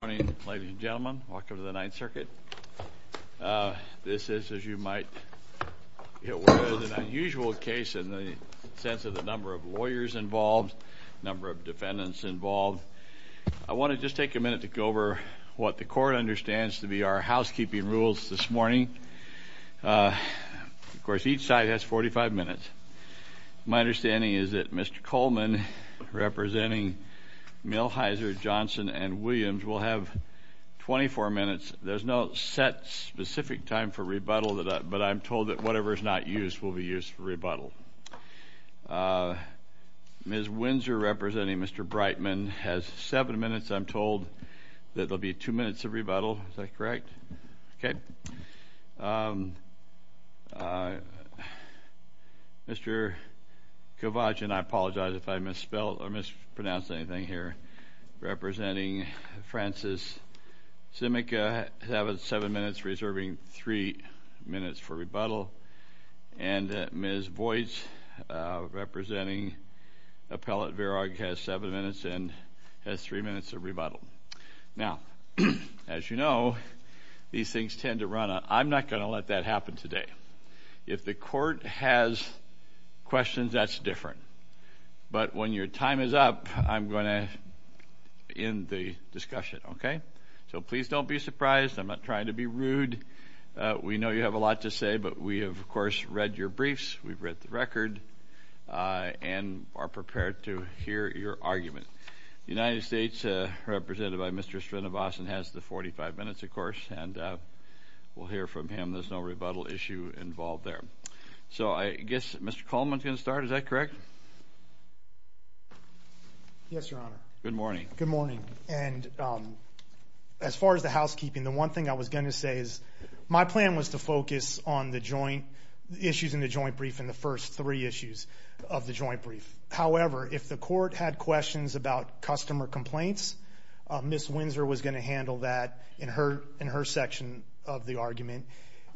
Good morning, ladies and gentlemen. Welcome to the Ninth Circuit. This is, as you might be aware, an unusual case in the sense of the number of lawyers involved, number of defendants involved. I want to just take a minute to go over what the Court understands to be our housekeeping rules this morning. Of course, each side has 45 minutes. My understanding is that Mr. Coleman, representing Milheiser, Johnson, and Williams, will have 24 minutes. There's no set specific time for rebuttal, but I'm told that whatever is not used will be used for rebuttal. Ms. Windsor, representing Mr. Brightman, has 7 minutes. I'm told that there will be 2 minutes of rebuttal. Is that correct? Okay. Mr. Kovach, and I apologize if I misspelled or mispronounced anything here, representing Francis Simica has 7 minutes, reserving 3 minutes for rebuttal. And Ms. Boyce, representing Appellate Verag, has 7 minutes and has 3 minutes of rebuttal. Now, as you know, these things tend to run out. I'm not going to let that happen today. If the Court has questions, that's different. But when your time is up, I'm going to end the discussion, okay? So please don't be surprised. I'm not trying to be rude. We know you have a lot to say, but we have, of course, read your briefs, we've read the record, and are prepared to hear your argument. The United States, represented by Mr. Srinivasan, has the 45 minutes, of course, and we'll hear from him. There's no rebuttal issue involved there. So I guess Mr. Coleman can start. Is that correct? Yes, Your Honor. Good morning. Good morning. And as far as the housekeeping, the one thing I was going to say is my plan was to focus on the joint issues in the joint brief and the first three issues of the joint brief. However, if the Court had questions about customer complaints, Ms. Windsor was going to handle that in her section of the argument.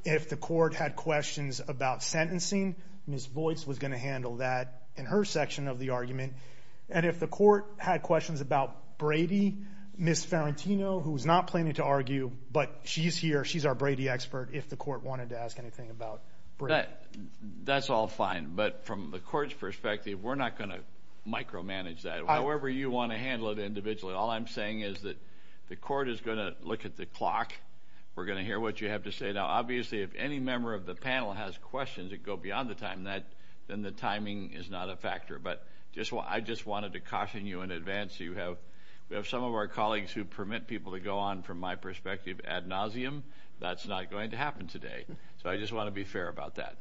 If the Court had questions about sentencing, Ms. Boyce was going to handle that in her section of the argument. And if the Court had questions about Brady, Ms. Ferrantino, who's not planning to argue, but she's here, she's our Brady expert, that's all fine. But from the Court's perspective, we're not going to micromanage that. However you want to handle it individually, all I'm saying is that the Court is going to look at the clock. We're going to hear what you have to say. Now, obviously, if any member of the panel has questions that go beyond the time, then the timing is not a factor. But I just wanted to caution you in advance. We have some of our colleagues who permit people to go on from my perspective ad nauseum. That's not going to happen today. So I just want to be fair about that.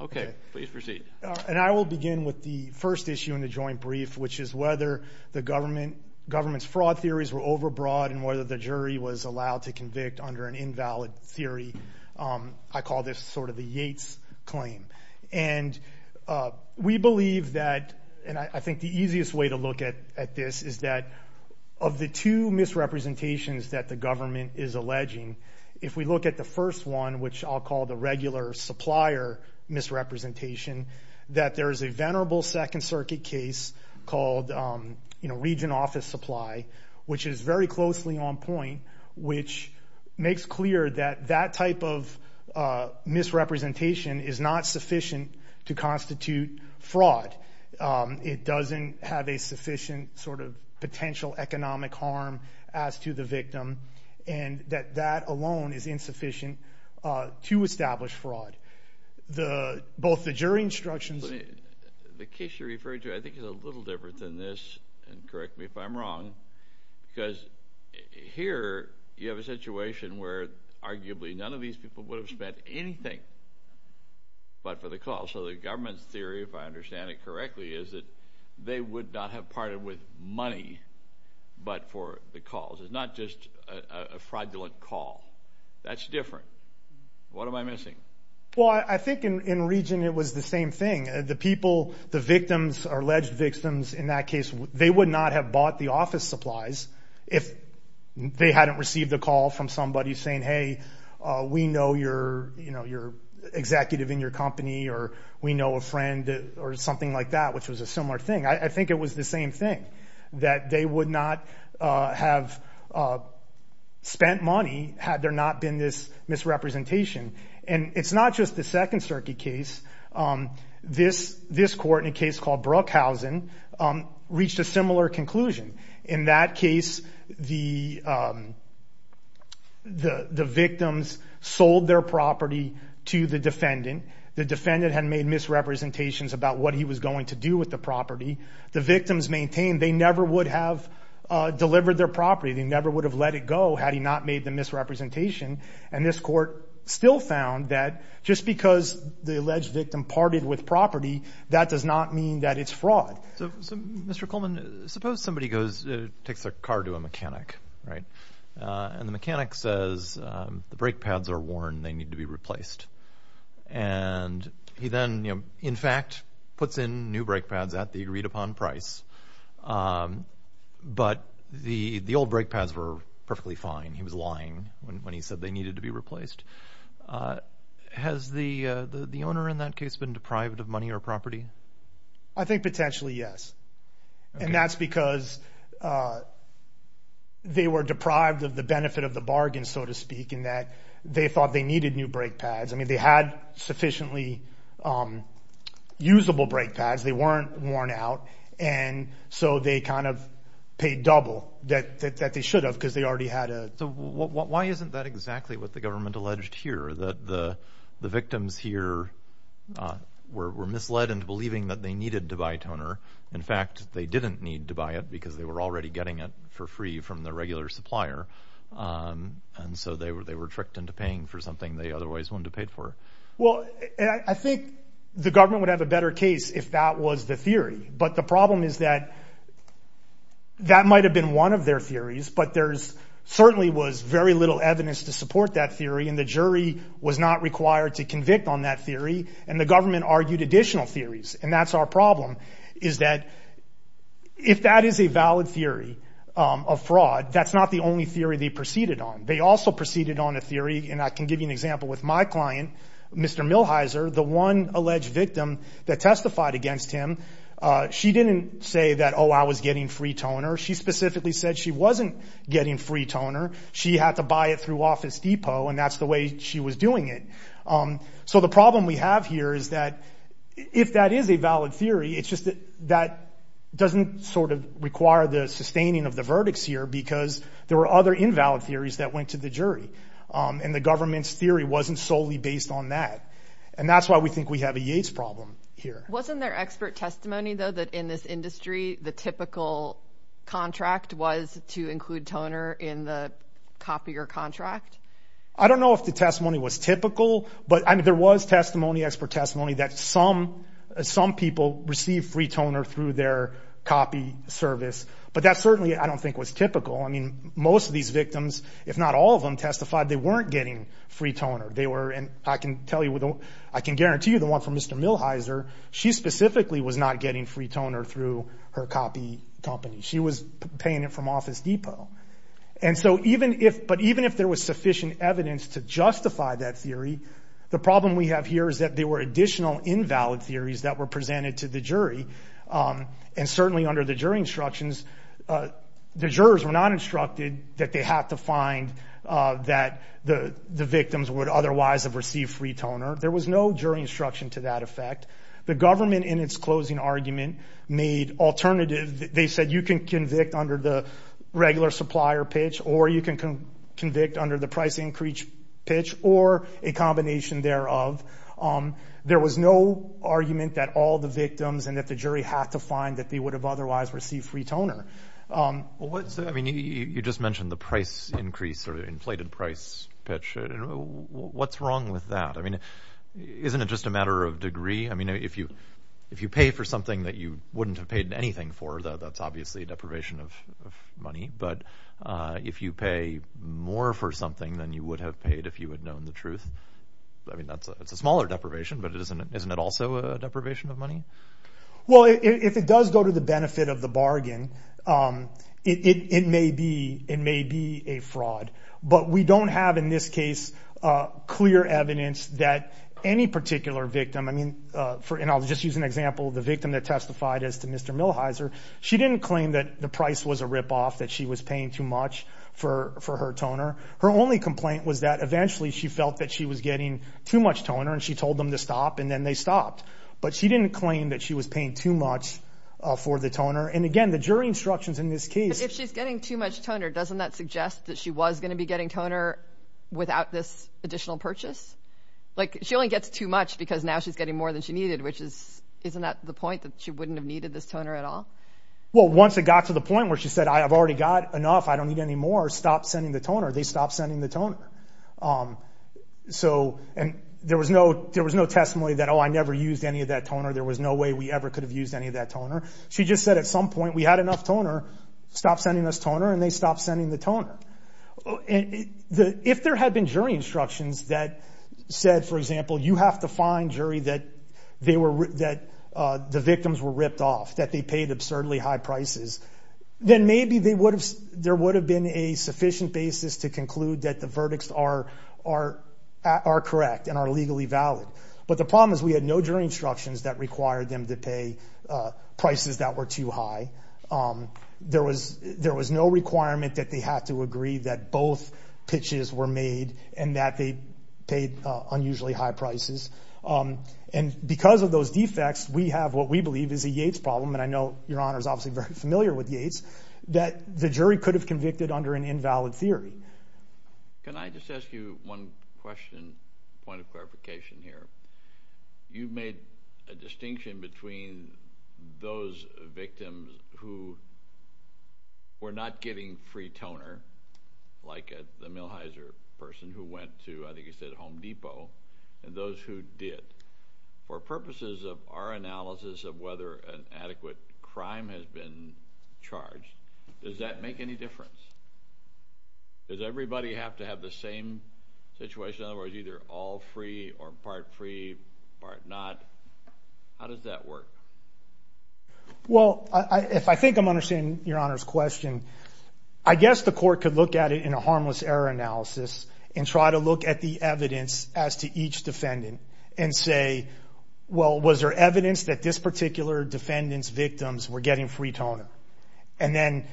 Okay, please proceed. And I will begin with the first issue in the joint brief, which is whether the government's fraud theories were overbroad and whether the jury was allowed to convict under an invalid theory. I call this sort of the Yates claim. And we believe that, and I think the easiest way to look at this is that of the two misrepresentations that the government is alleging, if we look at the first one, which I'll call the regular supplier misrepresentation, that there is a venerable Second Circuit case called region office supply, which is very closely on point, which makes clear that that type of misrepresentation is not sufficient to constitute fraud. It doesn't have a sufficient sort of potential economic harm as to the victim, and that that alone is insufficient to establish fraud. Both the jury instructions… The case you're referring to I think is a little different than this, and correct me if I'm wrong, because here you have a situation where arguably none of these people would have spent anything but for the call. So the government's theory, if I understand it correctly, is that they would not have partnered with money but for the calls. It's not just a fraudulent call. That's different. What am I missing? Well, I think in region it was the same thing. The people, the victims, alleged victims in that case, they would not have bought the office supplies if they hadn't received a call from somebody saying, hey, we know your executive in your company, or we know a friend, or something like that, which was a similar thing. I think it was the same thing, that they would not have spent money had there not been this misrepresentation. And it's not just the Second Circuit case. This court in a case called Brookhausen reached a similar conclusion. In that case, the victims sold their property to the defendant. The defendant had made misrepresentations about what he was going to do with the property. The victims maintained they never would have delivered their property. They never would have let it go had he not made the misrepresentation. And this court still found that just because the alleged victim partied with property, that does not mean that it's fraud. Mr. Coleman, suppose somebody takes their car to a mechanic, and the mechanic says the brake pads are worn, they need to be replaced. And he then, in fact, puts in new brake pads at the agreed upon price, but the old brake pads were perfectly fine. He was lying when he said they needed to be replaced. Has the owner in that case been deprived of money or property? I think potentially yes. And that's because they were deprived of the benefit of the bargain, so to speak, in that they thought they needed new brake pads. I mean, they had sufficiently usable brake pads. They weren't worn out, and so they kind of paid double that they should have because they already had a… So why isn't that exactly what the government alleged here, that the victims here were misled into believing that they needed to buy toner? In fact, they didn't need to buy it because they were already getting it for free from the regular supplier. And so they were tricked into paying for something they otherwise wouldn't have paid for. Well, I think the government would have a better case if that was the theory. But the problem is that that might have been one of their theories, but there certainly was very little evidence to support that theory, and the jury was not required to convict on that theory, and the government argued additional theories. And that's our problem, is that if that is a valid theory of fraud, that's not the only theory they proceeded on. They also proceeded on a theory, and I can give you an example with my client, Mr. Milheiser, the one alleged victim that testified against him. She didn't say that, oh, I was getting free toner. She specifically said she wasn't getting free toner. She had to buy it through Office Depot, and that's the way she was doing it. So the problem we have here is that if that is a valid theory, it's just that that doesn't sort of require the sustaining of the verdicts here because there were other invalid theories that went to the jury, and the government's theory wasn't solely based on that. And that's why we think we have a Yates problem here. Wasn't there expert testimony, though, that in this industry, the typical contract was to include toner in the copier contract? I don't know if the testimony was typical, but there was testimony, expert testimony, that some people received free toner through their copier service, but that certainly I don't think was typical. I mean, most of these victims, if not all of them, testified they weren't getting free toner. They were, and I can tell you, I can guarantee you the one from Mr. Milhiser, she specifically was not getting free toner through her copy company. She was paying it from Office Depot. And so even if, but even if there was sufficient evidence to justify that theory, the problem we have here is that there were additional invalid theories that were presented to the jury, and certainly under the jury instructions, the jurors were not instructed that they have to find that the victims would otherwise have received free toner. There was no jury instruction to that effect. The government, in its closing argument, made alternative, they said you can convict under the regular supplier pitch, or you can convict under the price increase pitch, or a combination thereof. There was no argument that all the victims and that the jury have to find that they would have otherwise received free toner. Well, I mean, you just mentioned the price increase or the inflated price pitch. What's wrong with that? I mean, isn't it just a matter of degree? I mean, if you pay for something that you wouldn't have paid anything for, that's obviously a deprivation of money. But if you pay more for something than you would have paid if you had known the truth, I mean, that's a smaller deprivation, but isn't it also a deprivation of money? Well, if it does go to the benefit of the bargain, it may be a fraud. But we don't have, in this case, clear evidence that any particular victim, and I'll just use an example of the victim that testified as to Mr. Millheiser, she didn't claim that the price was a ripoff, that she was paying too much for her toner. Her only complaint was that eventually she felt that she was getting too much toner, and she told them to stop, and then they stopped. But she didn't claim that she was paying too much for the toner. And, again, the jury instructions in this case – If she's getting too much toner, doesn't that suggest that she was going to be getting toner without this additional purchase? Like, she only gets too much because now she's getting more than she needed, which is – isn't that the point, that she wouldn't have needed this toner at all? Well, once it got to the point where she said, I've already got enough, I don't need any more, stop sending the toner, they stopped sending the toner. So – and there was no testimony that, oh, I never used any of that toner, there was no way we ever could have used any of that toner. She just said at some point, we had enough toner, stop sending us toner, and they stopped sending the toner. And if there had been jury instructions that said, for example, you have to find jury that the victims were ripped off, that they paid absurdly high prices, then maybe there would have been a sufficient basis to conclude that the verdicts are correct and are legally valid. But the problem is we had no jury instructions that required them to pay prices that were too high. There was no requirement that they have to agree that both pitches were made and that they paid unusually high prices. And because of those defects, we have what we believe is a Yates problem, and I know Your Honor is obviously very familiar with Yates, that the jury could have convicted under an invalid theory. Can I just ask you one question, point of clarification here? You've made a distinction between those victims who were not getting free toner, like the Millheiser person who went to, I think you said, Home Depot, and those who did. For purposes of our analysis of whether an adequate crime has been charged, does that make any difference? Does everybody have to have the same situation, otherwise either all free or part free, part not? How does that work? Well, if I think I'm understanding Your Honor's question, I guess the court could look at it in a harmless error analysis and try to look at the evidence as to each defendant and say, well, was there evidence that this particular defendant's victims were getting free toner? And then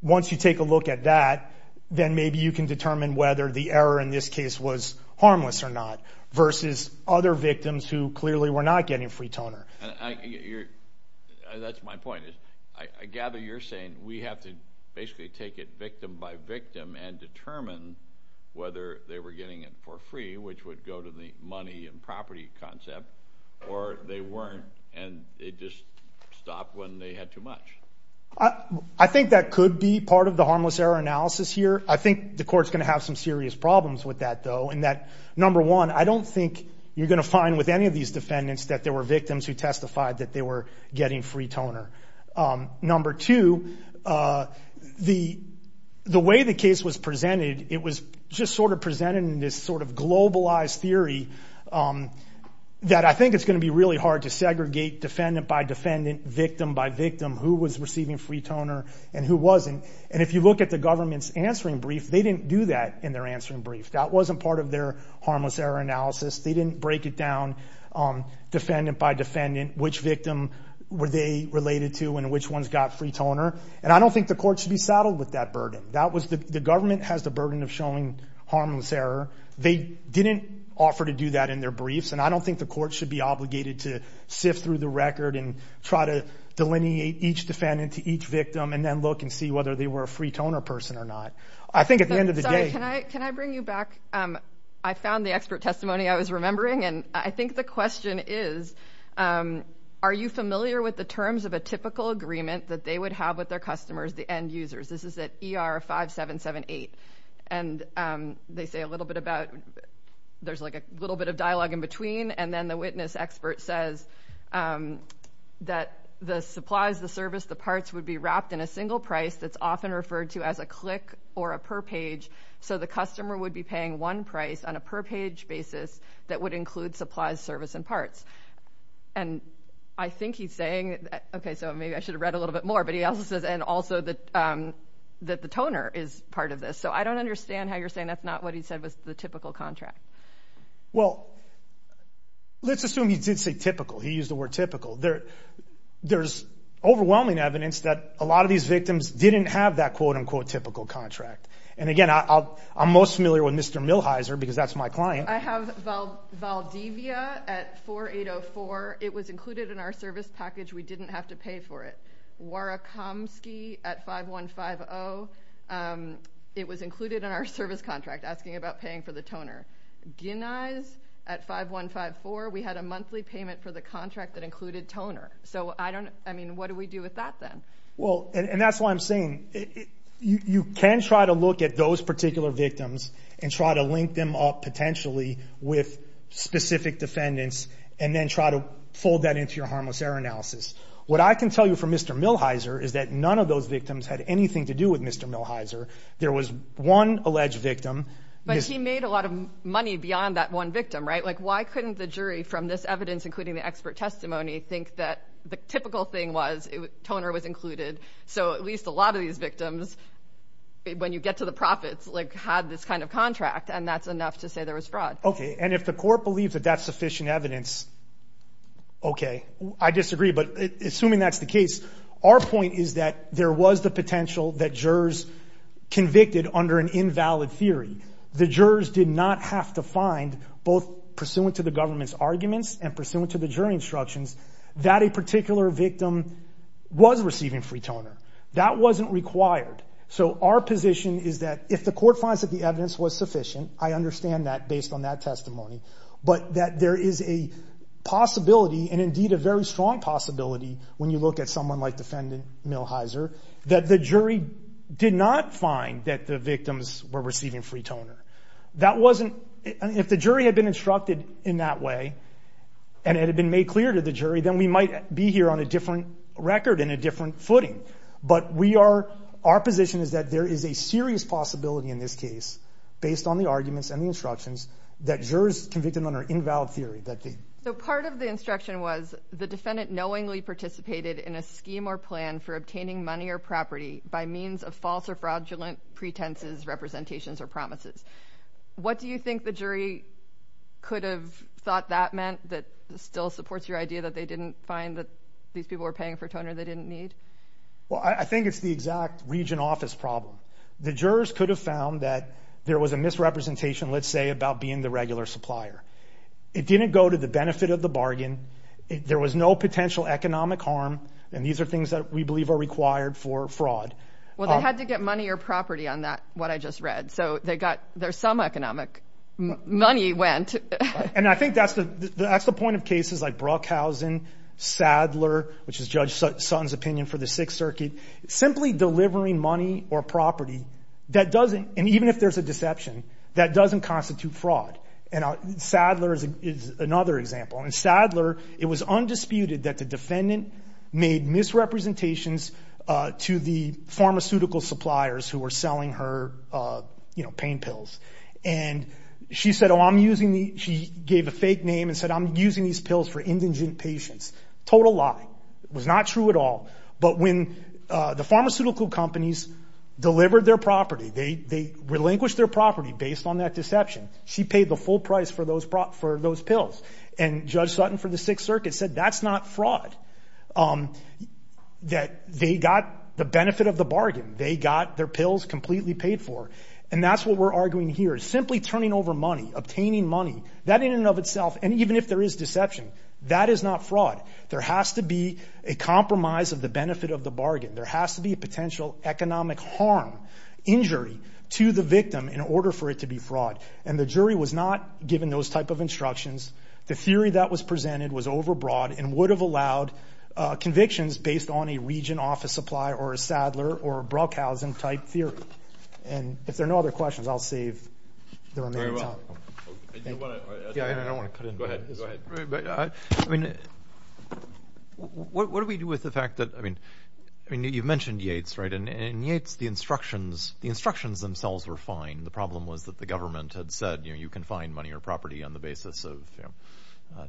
once you take a look at that, then maybe you can determine whether the error in this case was harmless or not versus other victims who clearly were not getting free toner. That's my point. I gather you're saying we have to basically take it victim by victim and determine whether they were getting it for free, which would go to the money and property concept, or they weren't and it just stopped when they had too much. I think that could be part of the harmless error analysis here. I think the court's going to have some serious problems with that, though, in that, number one, I don't think you're going to find with any of these defendants that there were victims who testified that they were getting free toner. Number two, the way the case was presented, it was just sort of presented in this sort of globalized theory that I think it's going to be really hard to segregate defendant by defendant, victim by victim, who was receiving free toner and who wasn't. And if you look at the government's answering brief, they didn't do that in their answering brief. That wasn't part of their harmless error analysis. They didn't break it down defendant by defendant, which victim were they related to and which ones got free toner. And I don't think the court should be saddled with that burden. The government has the burden of showing harmless error. They didn't offer to do that in their briefs, and I don't think the court should be obligated to sift through the record and try to delineate each defendant to each victim and then look and see whether they were a free toner person or not. I think at the end of the day... I was remembering, and I think the question is, are you familiar with the terms of a typical agreement that they would have with their customers, the end users? This is at ER 5778, and they say a little bit about it. There's like a little bit of dialogue in between, and then the witness expert says that the supplies, the service, the parts, would be wrapped in a single price that's often referred to as a click or a per page, so the customer would be paying one price on a per page basis that would include supplies, service, and parts. And I think he's saying... Okay, so maybe I should have read a little bit more, but he also says that the toner is part of this. So I don't understand how you're saying that's not what he said was the typical contract. Well, let's assume he did say typical. He used the word typical. There's overwhelming evidence that a lot of these victims didn't have that quote-unquote typical contract. And, again, I'm most familiar with Mr. Milheiser because that's my client. I have Valdivia at 4804. It was included in our service package. We didn't have to pay for it. Warakomsky at 5150. It was included in our service contract, asking about paying for the toner. Ginize at 5154. We had a monthly payment for the contract that included toner. So, I mean, what do we do with that then? Well, and that's what I'm saying. You can try to look at those particular victims and try to link them up potentially with specific defendants and then try to fold that into your harmless error analysis. What I can tell you from Mr. Milheiser is that none of those victims had anything to do with Mr. Milheiser. There was one alleged victim. But he made a lot of money beyond that one victim, right? Like why couldn't the jury from this evidence, including the expert testimony, think that the typical thing was toner was included, so at least a lot of these victims, when you get to the profits, had this kind of contract, and that's enough to say there was fraud. Okay, and if the court believes that that's sufficient evidence, okay. I disagree, but assuming that's the case, our point is that there was the potential that jurors convicted under an invalid theory. The jurors did not have to find, both pursuant to the government's arguments and pursuant to the jury instructions, that a particular victim was receiving free toner. That wasn't required. So our position is that if the court finds that the evidence was sufficient, I understand that based on that testimony, but that there is a possibility, and indeed a very strong possibility, when you look at someone like Defendant Milheiser, that the jury did not find that the victims were receiving free toner. If the jury had been instructed in that way and it had been made clear to the jury, then we might be here on a different record and a different footing. But our position is that there is a serious possibility in this case, based on the arguments and the instructions, that jurors convicted under an invalid theory. So part of the instruction was, the defendant knowingly participated in a scheme or plan for obtaining money or property by means of false or fraudulent pretenses, representations, or promises. What do you think the jury could have thought that meant, that still supports your idea that they didn't find that these people were paying for toner they didn't need? Well, I think it's the exact region office problem. The jurors could have found that there was a misrepresentation, let's say, about being the regular supplier. It didn't go to the benefit of the bargain. There was no potential economic harm, and these are things that we believe are required for fraud. Well, they had to get money or property on that, what I just read. So some economic money went. And I think that's the point of cases like Brockhausen, Sadler, which is Judge Sutton's opinion for the Sixth Circuit. Simply delivering money or property, and even if there's a deception, that doesn't constitute fraud. And Sadler is another example. In Sadler, it was undisputed that the defendant made misrepresentations to the pharmaceutical suppliers who were selling her pain pills. And she said, she gave a fake name and said, I'm using these pills for indigent patients. Total lie. It was not true at all. But when the pharmaceutical companies delivered their property, they relinquished their property based on that deception. She paid the full price for those pills. And Judge Sutton for the Sixth Circuit said that's not fraud. That they got the benefit of the bargain. They got their pills completely paid for. And that's what we're arguing here. Simply turning over money, obtaining money, that in and of itself, and even if there is deception, that is not fraud. There has to be a compromise of the benefit of the bargain. There has to be a potential economic harm, injury, to the victim in order for it to be fraud. And the jury was not given those type of instructions. The theory that was presented was overbroad and would have allowed convictions based on a region office supply or a Sadler or a Bruckhausen type theory. And if there are no other questions, I'll save the remaining time. What do we do with the fact that, I mean, you mentioned Yates, right? In Yates, the instructions themselves were fine. The problem was that the government had said, you can find money or property on the basis of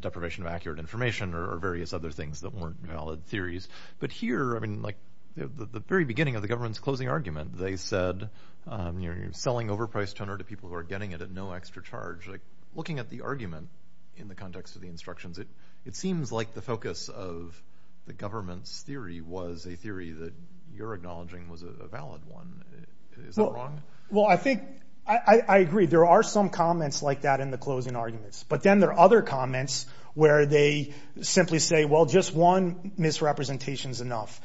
deprivation of accurate information or various other things that weren't valid theories. But here, I mean, the very beginning of the government's closing argument, they said, you're selling overpriced toner to people who are getting it at no extra charge. Looking at the argument in the context of the instructions, it seems like the focus of the government's theory was a theory that you're acknowledging was a valid one. Is that wrong? Well, I think, I agree. There are some comments like that in the closing arguments. But then there are other comments where they simply say, well, just one misrepresentation is enough.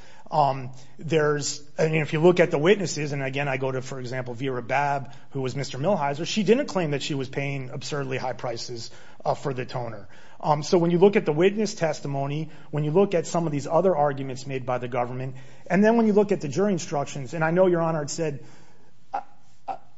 There's, I mean, if you look at the witnesses, and again I go to, for example, Vera Babb, who was Mr. Milhiser, she didn't claim that she was paying absurdly high prices for the toner. So when you look at the witness testimony, when you look at some of these other arguments made by the government, and then when you look at the jury instructions, and I know, Your Honor, it said,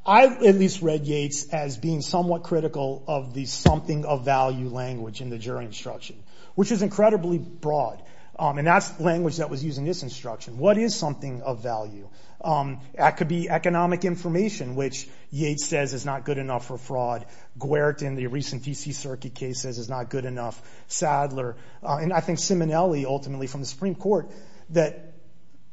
I at least read Yates as being somewhat critical of the something-of-value language in the jury instruction, which is incredibly broad. And that's language that was used in this instruction. What is something of value? That could be economic information, which Yates says is not good enough for fraud. Guert in the recent D.C. Circuit case says it's not good enough. Sadler, and I think Simonelli ultimately from the Supreme Court, that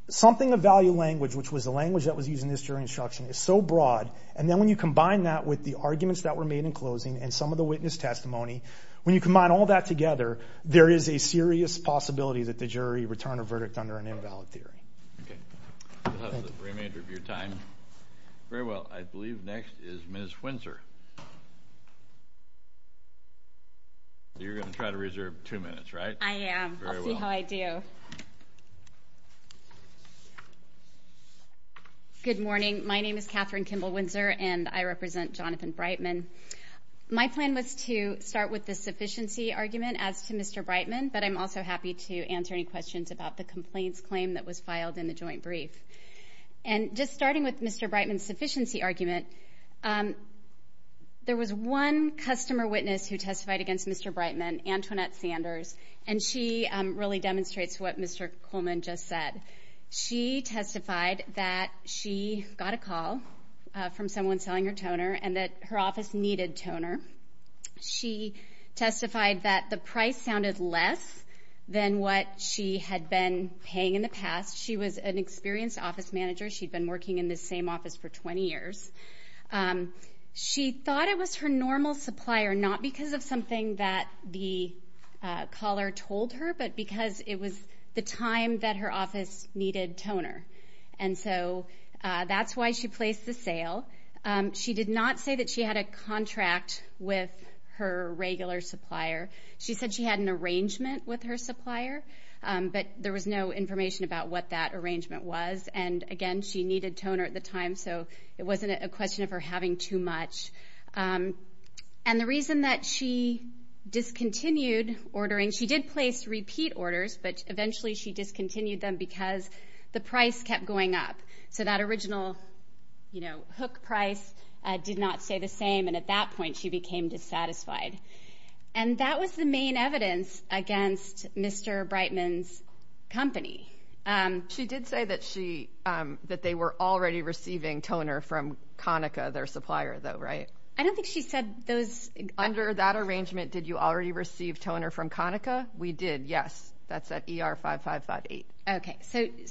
something-of-value language, which was the language that was used in this jury instruction, is so broad, and then when you combine that with the arguments that were made in closing and some of the witness testimony, when you combine all that together, there is a serious possibility that the jury returned a verdict under an invalid theory. Okay. That's the remainder of your time. Very well. I believe next is Ms. Windsor. You're going to try to reserve two minutes, right? I am. I'll see how I do. Good morning. My name is Katherine Kimball Windsor, and I represent Jonathan Breitman. My plan was to start with the sufficiency argument as to Mr. Breitman, but I'm also happy to answer any questions about the complaints claim that was filed in the joint brief. Just starting with Mr. Breitman's sufficiency argument, there was one customer witness who testified against Mr. Breitman, Antoinette Sanders, and she really demonstrates what Mr. Coleman just said. She testified that she got a call from someone selling her toner and that her office needed toner. She testified that the price sounded less than what she had been paying in the past. She was an experienced office manager. She'd been working in this same office for 20 years. She thought it was her normal supplier, not because of something that the caller told her, but because it was the time that her office needed toner. And so that's why she placed the sale. She did not say that she had a contract with her regular supplier. She said she had an arrangement with her supplier, but there was no information about what that arrangement was. And, again, she needed toner at the time, so it wasn't a question of her having too much. And the reason that she discontinued ordering, she did place repeat orders, but eventually she discontinued them because the price kept going up. So that original hook price did not stay the same, and at that point she became dissatisfied. And that was the main evidence against Mr. Breitman's company. She did say that they were already receiving toner from Conica, their supplier, though, right? I don't think she said those. Under that arrangement, did you already receive toner from Conica? We did, yes. That's at ER55.8. Okay.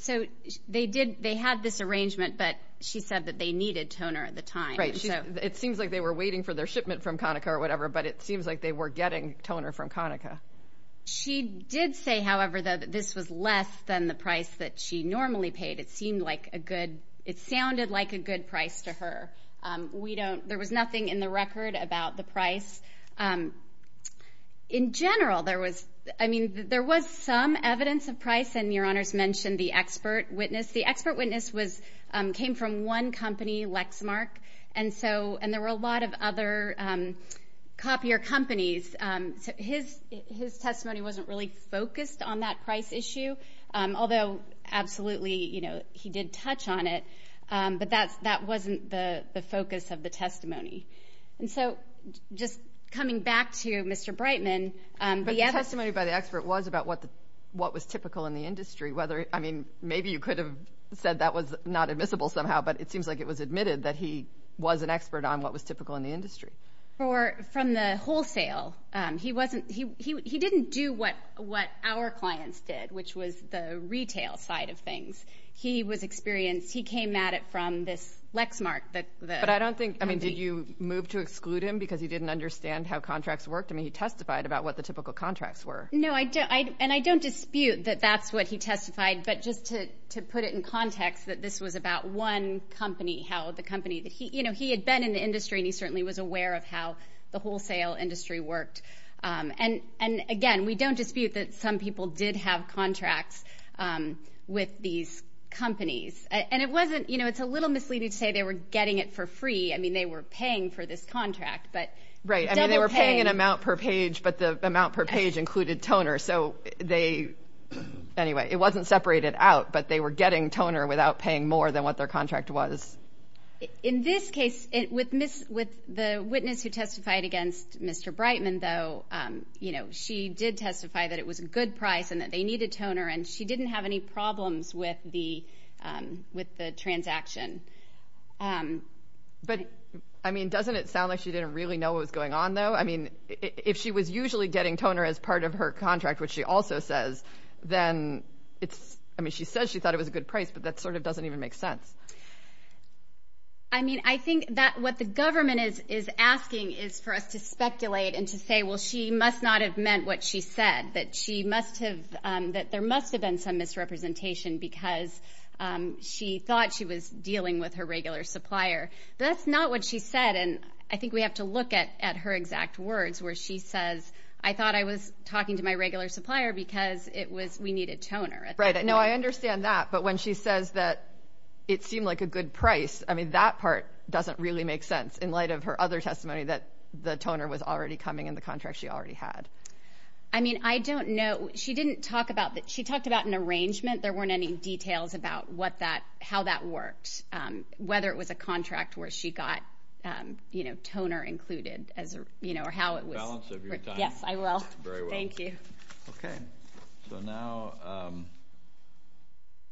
So they had this arrangement, but she said that they needed toner at the time. Right. It seems like they were waiting for their shipment from Conica or whatever, but it seems like they were getting toner from Conica. She did say, however, though, that this was less than the price that she normally paid. It sounded like a good price to her. There was nothing in the record about the price. In general, I mean, there was some evidence of price, and Your Honors mentioned the expert witness. The expert witness came from one company, Lexmark, and there were a lot of other copier companies. His testimony wasn't really focused on that price issue, although absolutely he did touch on it, but that wasn't the focus of the testimony. And so just coming back to Mr. Brightman. But the testimony by the expert was about what was typical in the industry. I mean, maybe you could have said that was not admissible somehow, but it seems like it was admitted that he was an expert on what was typical in the industry. From the wholesale, he didn't do what our clients did, which was the retail side of things. He was experienced. He came at it from this Lexmark. But I don't think, I mean, did you move to exclude him because you didn't understand how contracts worked? I mean, he testified about what the typical contracts were. No, and I don't dispute that that's what he testified, but just to put it in context that this was about one company, how the company that he, you know, he had been in the industry, and he certainly was aware of how the wholesale industry worked. And, again, we don't dispute that some people did have contracts with these companies. And it wasn't, you know, it's a little misleading to say they were getting it for free. I mean, they were paying for this contract. Right, I mean, they were paying an amount per page, but the amount per page included toner. So they, anyway, it wasn't separated out, but they were getting toner without paying more than what their contract was. In this case, with the witness who testified against Mr. Brightman, though, you know, she did testify that it was a good price and that they needed toner, and she didn't have any problems with the transaction. But, I mean, doesn't it sound like she didn't really know what was going on, though? I mean, if she was usually getting toner as part of her contract, which she also says, then it's, I mean, she says she thought it was a good price, but that sort of doesn't even make sense. I mean, I think that what the government is asking is for us to speculate and to say, well, she must not have meant what she said, that she must have, that there must have been some misrepresentation because she thought she was dealing with her regular supplier. That's not what she said, and I think we have to look at her exact words where she says, I thought I was talking to my regular supplier because it was, we needed toner. Right, no, I understand that, but when she says that it seemed like a good price, I mean, that part doesn't really make sense in light of her other testimony that the toner was already coming in the contract she already had. I mean, I don't know. She didn't talk about that. She talked about an arrangement. There weren't any details about what that, how that worked, whether it was a contract where she got, you know, toner included, you know, or how it was. Balance of your time. Yes, I will. Very well. Thank you. Okay. So now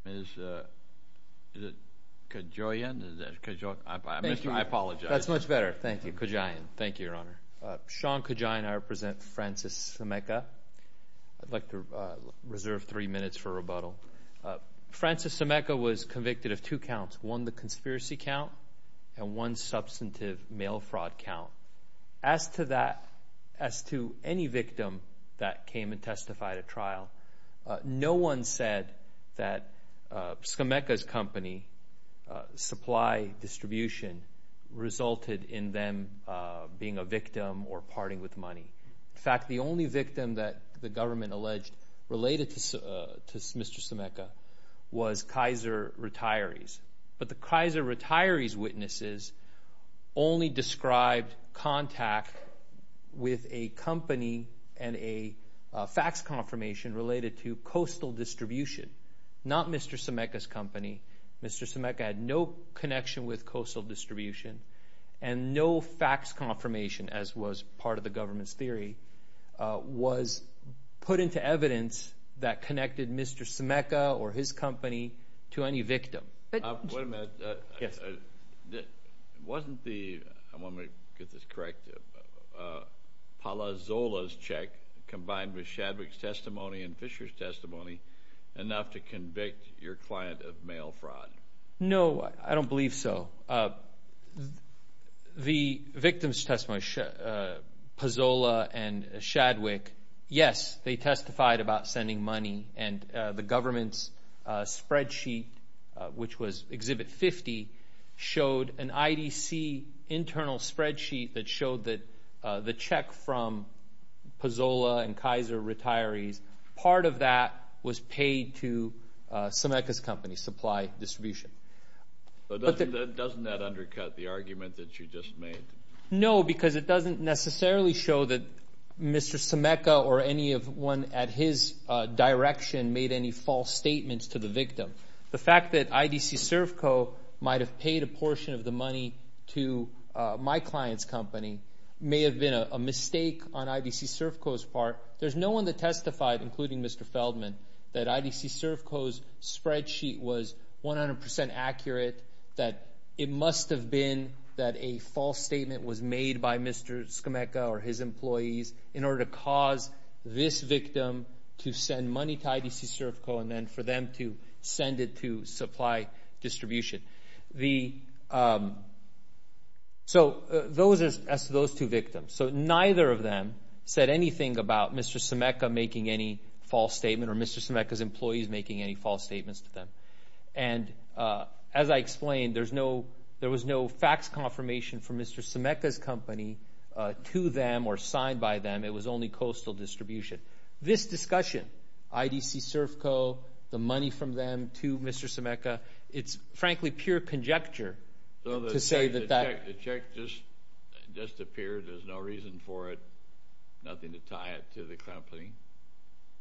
is it Kajoyan? I apologize. That's much better. Thank you. Kajoyan. Thank you, Your Honor. Sean Kajoyan. I represent Francis Sameka. I'd like to reserve three minutes for rebuttal. Francis Sameka was convicted of two counts, one the conspiracy count and one substantive mail fraud count. As to that, as to any victim that came and testified at trial, no one said that Sameka's company supply distribution resulted in them being a victim or parting with money. In fact, the only victim that the government alleged related to Mr. Sameka was Kaiser Retirees. But the Kaiser Retirees witnesses only described contact with a company and a fax confirmation related to coastal distribution, not Mr. Sameka's company. Mr. Sameka had no connection with coastal distribution and no fax confirmation, was put into evidence that connected Mr. Sameka or his company to any victim. Wait a minute. Wasn't the, I want to get this correct, Palazola's check combined with Shadwick's testimony and Fisher's testimony enough to convict your client of mail fraud? No, I don't believe so. The victim's testimony, Palazola and Shadwick, yes, they testified about sending money and the government's spreadsheet, which was Exhibit 50, showed an IDC internal spreadsheet that showed that the check from Palazola and Kaiser Retirees, part of that was paid to Sameka's company supply distribution. Doesn't that undercut the argument that you just made? No, because it doesn't necessarily show that Mr. Sameka or anyone at his direction made any false statements to the victim. The fact that IDC Servco might have paid a portion of the money to my client's company may have been a mistake on IDC Servco's part. There's no one that testified, including Mr. Feldman, that IDC Servco's spreadsheet was 100% accurate, that it must have been that a false statement was made by Mr. Sameka or his employees in order to cause this victim to send money to IDC Servco and then for them to send it to supply distribution. So that's those two victims. So neither of them said anything about Mr. Sameka making any false statement or Mr. Sameka's employees making any false statements to them. And as I explained, there was no fax confirmation from Mr. Sameka's company to them or signed by them. It was only coastal distribution. This discussion, IDC Servco, the money from them to Mr. Sameka, it's frankly pure conjecture to say that that... So the check just disappeared, there's no reason for it, nothing to tie it to the company.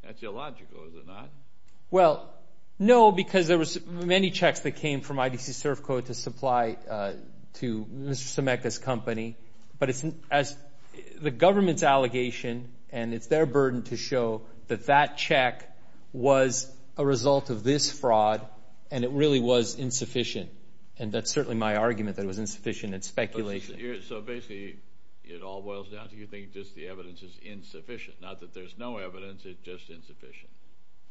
That's illogical, is it not? Well, no, because there were many checks that came from IDC Servco to supply to Mr. Sameka's company. But the government's allegation, and it's their burden to show, that that check was a result of this fraud and it really was insufficient. And that's certainly my argument that it was insufficient, it's speculation. So basically it all boils down to you think just the evidence is insufficient. Not that there's no evidence, it's just insufficient.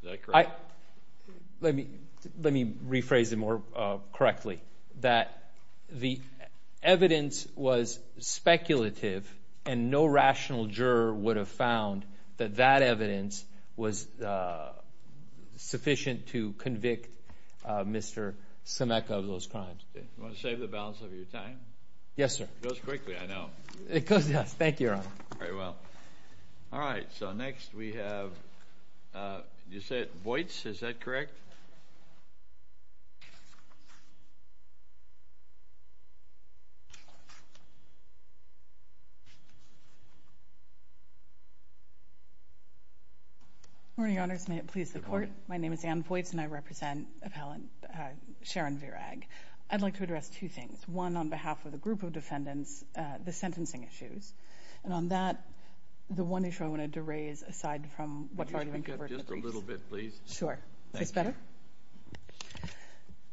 Is that correct? Let me rephrase it more correctly. That the evidence was speculative and no rational juror would have found that that evidence was sufficient to convict Mr. Sameka of those crimes. You want to save the balance of your time? Yes, sir. It goes quickly, I know. Thank you, Your Honor. Very well. All right, so next we have, you said Voights, is that correct? Good morning, Your Honor. May it please the Court. My name is Anne Voights and I represent Sharon Virag. I'd like to address two things. One on behalf of the group of defendants, the sentencing issues. And on that, the one issue I wanted to raise, aside from what I've already introduced. Just a little bit, please. Sure. Just better?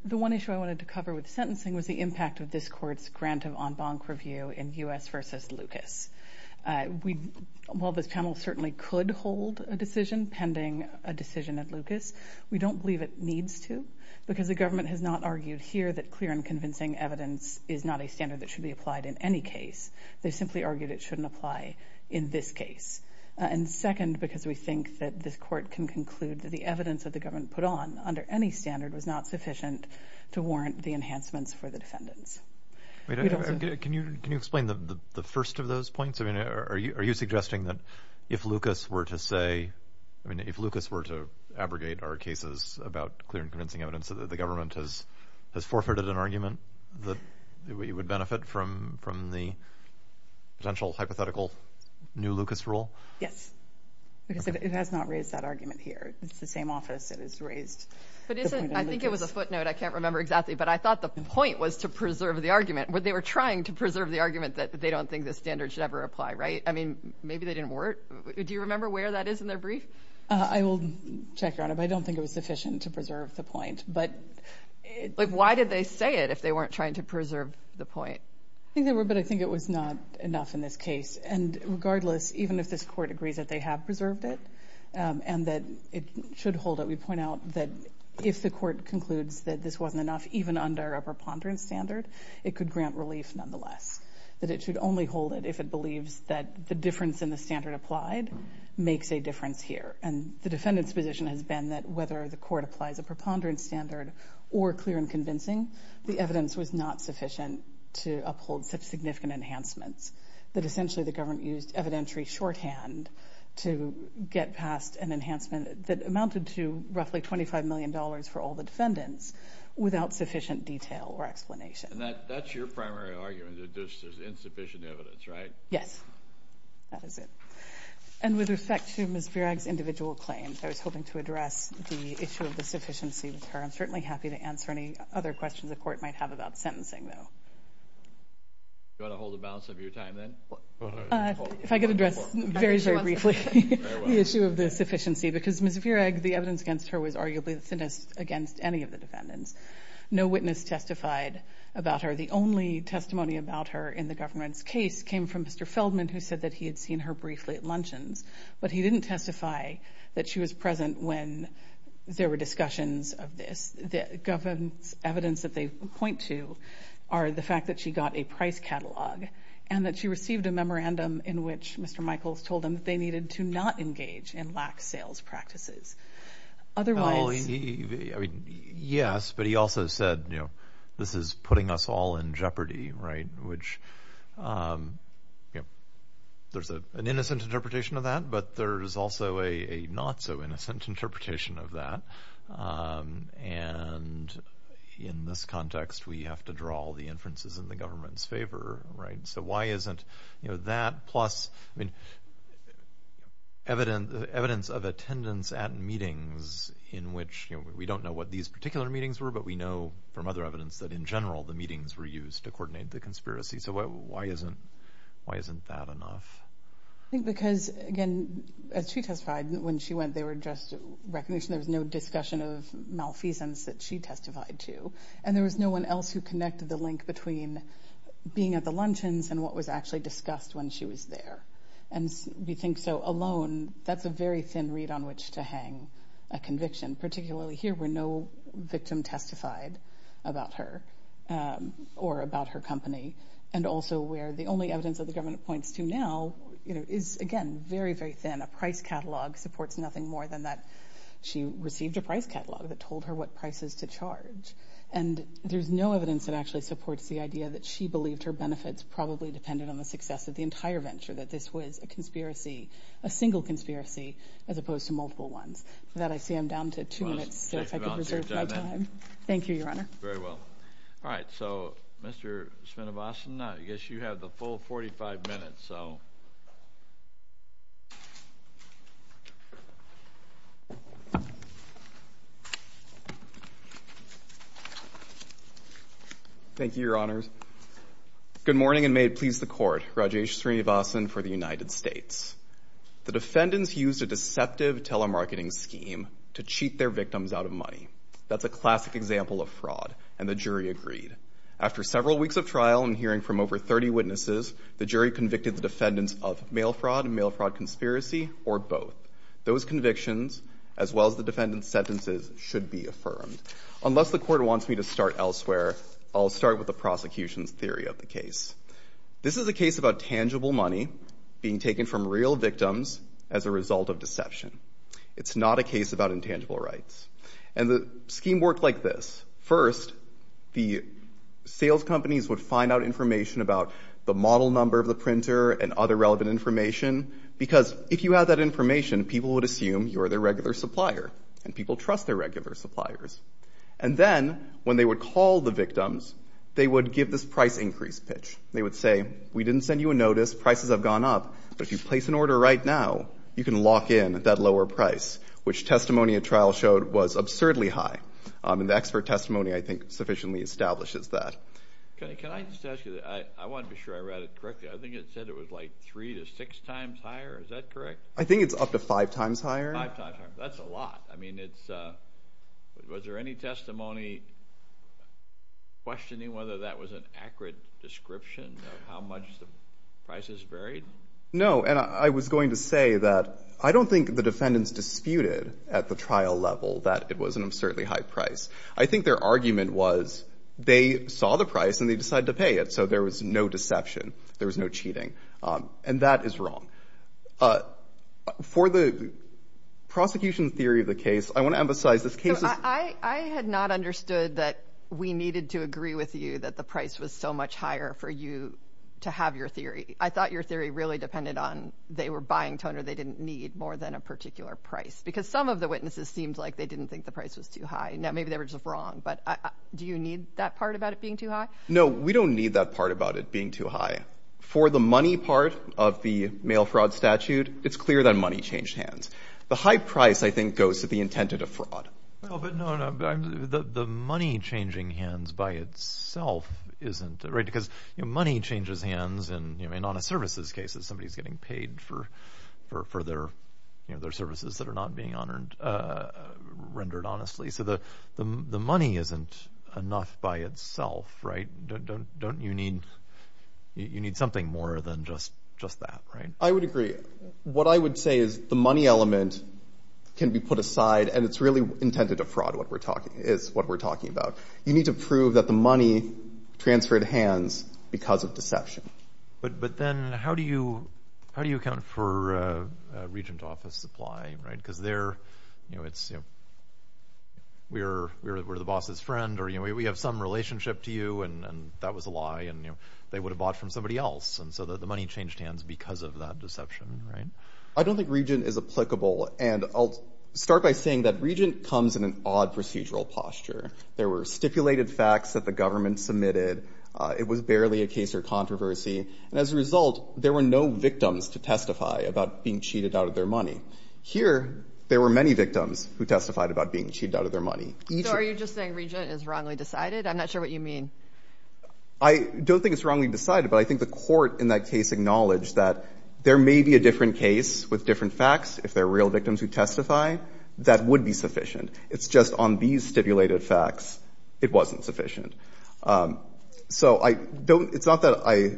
The one issue I wanted to cover with sentencing was the impact of this Court's grant of en banc review in U.S. v. Lucas. While the panel certainly could hold a decision pending a decision in Lucas, we don't believe it needs to because the government has not argued here that clear and convincing evidence is not a standard that should be applied in any case. They simply argue that it shouldn't apply in this case. And second, because we think that this Court can conclude that the evidence that the government put on under any standard was not sufficient to warrant the enhancements for the defendants. Can you explain the first of those points? Are you suggesting that if Lucas were to say, if Lucas were to abrogate our cases about clear and convincing evidence, that the government has forfeited an argument that it would benefit from the potential hypothetical new Lucas rule? Yes. It has not raised that argument here. It's the same office that has raised it. I think it was a footnote. I can't remember exactly. But I thought the point was to preserve the argument. They were trying to preserve the argument that they don't think the standard should ever apply, right? I mean, maybe they didn't work. Do you remember where that is in their brief? I will check, Your Honor, but I don't think it was sufficient to preserve the point. But why did they say it if they weren't trying to preserve the point? I think they were, but I think it was not enough in this case. And regardless, even if this Court agrees that they have preserved it and that it should hold it, we point out that if the Court concludes that this wasn't enough, even under a preponderance standard, it could grant relief nonetheless, that it should only hold it if it believes that the difference in the standard applied makes a difference here. And the defendant's position has been that whether the Court applies a preponderance standard or clear and convincing, the evidence was not sufficient to uphold such significant enhancements, that essentially the government used evidentiary shorthand to get past an enhancement that amounted to roughly $25 million for all the defendants without sufficient detail or explanation. And that's your primary argument, that this is insufficient evidence, right? Yes, that is it. And with respect to Ms. Virag's individual claims, I was hoping to address the issue of the sufficiency of the term. I'm certainly happy to answer any other questions the Court might have about sentencing, though. Do you want to hold the balance of your time then? If I could address very, very briefly the issue of the sufficiency, because Ms. Virag, the evidence against her was arguably the thinnest against any of the defendants. No witness testified about her. The only testimony about her in the government's case came from Mr. Feldman, who said that he had seen her briefly at luncheons. But he didn't testify that she was present when there were discussions of this. The government's evidence that they point to are the fact that she got a price catalog and that she received a memorandum in which Mr. Michaels told them that they needed to not engage in lax sales practices. Yes, but he also said, you know, this is putting us all in jeopardy, right? There's an innocent interpretation of that, but there's also a not-so-innocent interpretation of that. And in this context, we have to draw the inferences in the government's favor, right? So why isn't that plus evidence of attendance at meetings in which we don't know what these particular meetings were, but we know from other evidence that in general the meetings were used to coordinate the conspiracy. So why isn't that enough? I think because, again, as she testified, when she went, there was just recognition. There was no discussion of malfeasance that she testified to. And there was no one else who connected the link between being at the luncheons and what was actually discussed when she was there. And you think so alone, that's a very thin reed on which to hang a conviction, particularly here where no victim testified about her or about her company, and also where the only evidence that the government points to now is, again, very, very thin. A price catalog supports nothing more than that she received a price catalog that told her what prices to charge. And there's no evidence that actually supports the idea that she believed her benefits probably depended on the success of the entire venture, that this was a conspiracy, a single conspiracy, as opposed to multiple ones. With that, I see I'm down to two minutes, so if I could reserve my time. Thank you, Your Honor. Very well. All right, so, Mr. Svinovasan, I guess you have the full 45 minutes, so... Thank you, Your Honors. Good morning, and may it please the Court. Rajesh Svinovasan for the United States. The defendants used a deceptive telemarketing scheme to cheat their victims out of money. That's a classic example of fraud, and the jury agreed. After several weeks of trial and hearing from over 30 witnesses, the jury convicted the defendants of mail fraud, mail fraud conspiracy, or both. Those convictions, as well as the defendants' sentences, should be affirmed. Unless the Court wants me to start elsewhere, I'll start with the prosecution's theory of the case. This is a case about tangible money being taken from real victims as a result of deception. It's not a case about intangible rights. And the scheme worked like this. First, the sales companies would find out information about the model number of the printer and other relevant information, because if you have that information, people would assume you're their regular supplier, and people trust their regular suppliers. And then, when they would call the victims, they would give this price increase pitch. They would say, we didn't send you a notice, prices have gone up, but if you place an order right now, you can lock in at that lower price, which testimony at trial showed was absurdly high. And the expert testimony, I think, sufficiently establishes that. Can I just ask you, I want to be sure I read it correctly. I think it said it was like three to six times higher. Is that correct? I think it's up to five times higher. Five times higher, that's a lot. I mean, was there any testimony questioning whether that was an accurate description of how much the prices varied? No, and I was going to say that I don't think the defendants disputed at the trial level that it was an absurdly high price. I think their argument was they saw the price and they decided to pay it, so there was no deception. There was no cheating. And that is wrong. For the prosecution theory of the case, I want to emphasize this case is... I had not understood that we needed to agree with you that the price was so much higher for you to have your theory. I thought your theory really depended on they were buying toner they didn't need more than a particular price because some of the witnesses seemed like they didn't think the price was too high. Maybe they were just wrong, but do you need that part about it being too high? No, we don't need that part about it being too high. For the money part of the mail fraud statute, it's clear that money changed hands. The high price, I think, goes to the intent of the fraud. No, but the money changing hands by itself isn't... because money changes hands and in honest services cases, somebody's getting paid for their services that are not being rendered honestly, so the money isn't enough by itself, right? You need something more than just that, right? I would agree. What I would say is the money element can be put aside and it's really intended to fraud what we're talking about. You need to prove that the money transferred hands because of deception. But then how do you account for a regent office supply? Because there, we're the boss's friend or we have some relationship to you and that was a lie and they would have bought from somebody else and so the money changed hands because of that deception, right? I don't think regent is applicable and I'll start by saying that regent comes in an odd procedural posture. There were stipulated facts that the government submitted. It was barely a case or controversy. As a result, there were no victims to testify about being cheated out of their money. Here, there were many victims who testified about being cheated out of their money. So are you just saying regent is wrongly decided? I'm not sure what you mean. I don't think it's wrongly decided, but I think the court in that case acknowledged that there may be a different case with different facts if they're real victims who testify. That would be sufficient. It's just on these stipulated facts, it wasn't sufficient. So it's not that I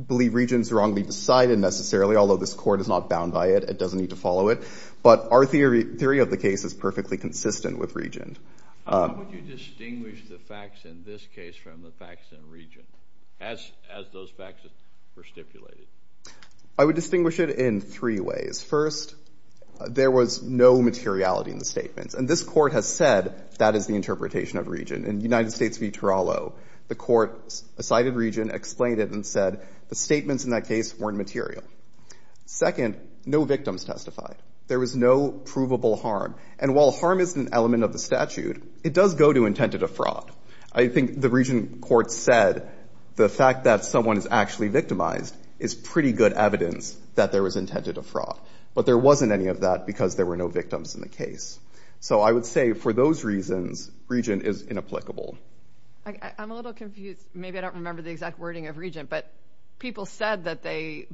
believe regents wrongly decided necessarily, although this court is not bound by it. It doesn't need to follow it. But our theory of the case is perfectly consistent with regents. How would you distinguish the facts in this case from the facts in regents, as those facts were stipulated? I would distinguish it in three ways. First, there was no materiality in the statements, and this court has said that is the interpretation of regent. In the United States v. Toronto, the court cited regent, explained it, and said the statements in that case weren't material. Second, no victims testified. There was no provable harm, and while harm is an element of the statute, it does go to intended of fraud. I think the regent court said the fact that someone is actually victimized is pretty good evidence that there was intended of fraud. But there wasn't any of that because there were no victims in the case. So I would say for those reasons, regent is inapplicable. I'm a little confused. Maybe I don't remember the exact wording of regent, but people said that they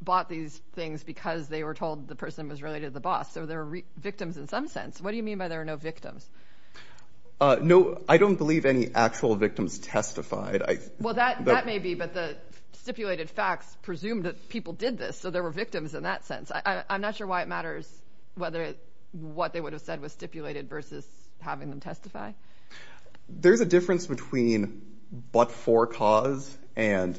bought these things because they were told the person was related to the boss, so there were victims in some sense. What do you mean by there were no victims? No, I don't believe any actual victims testified. Well, that may be, but the stipulated facts presume that people did this, so there were victims in that sense. I'm not sure why it matters whether what they would have said was stipulated versus having them testify. There's a difference between but-for cause and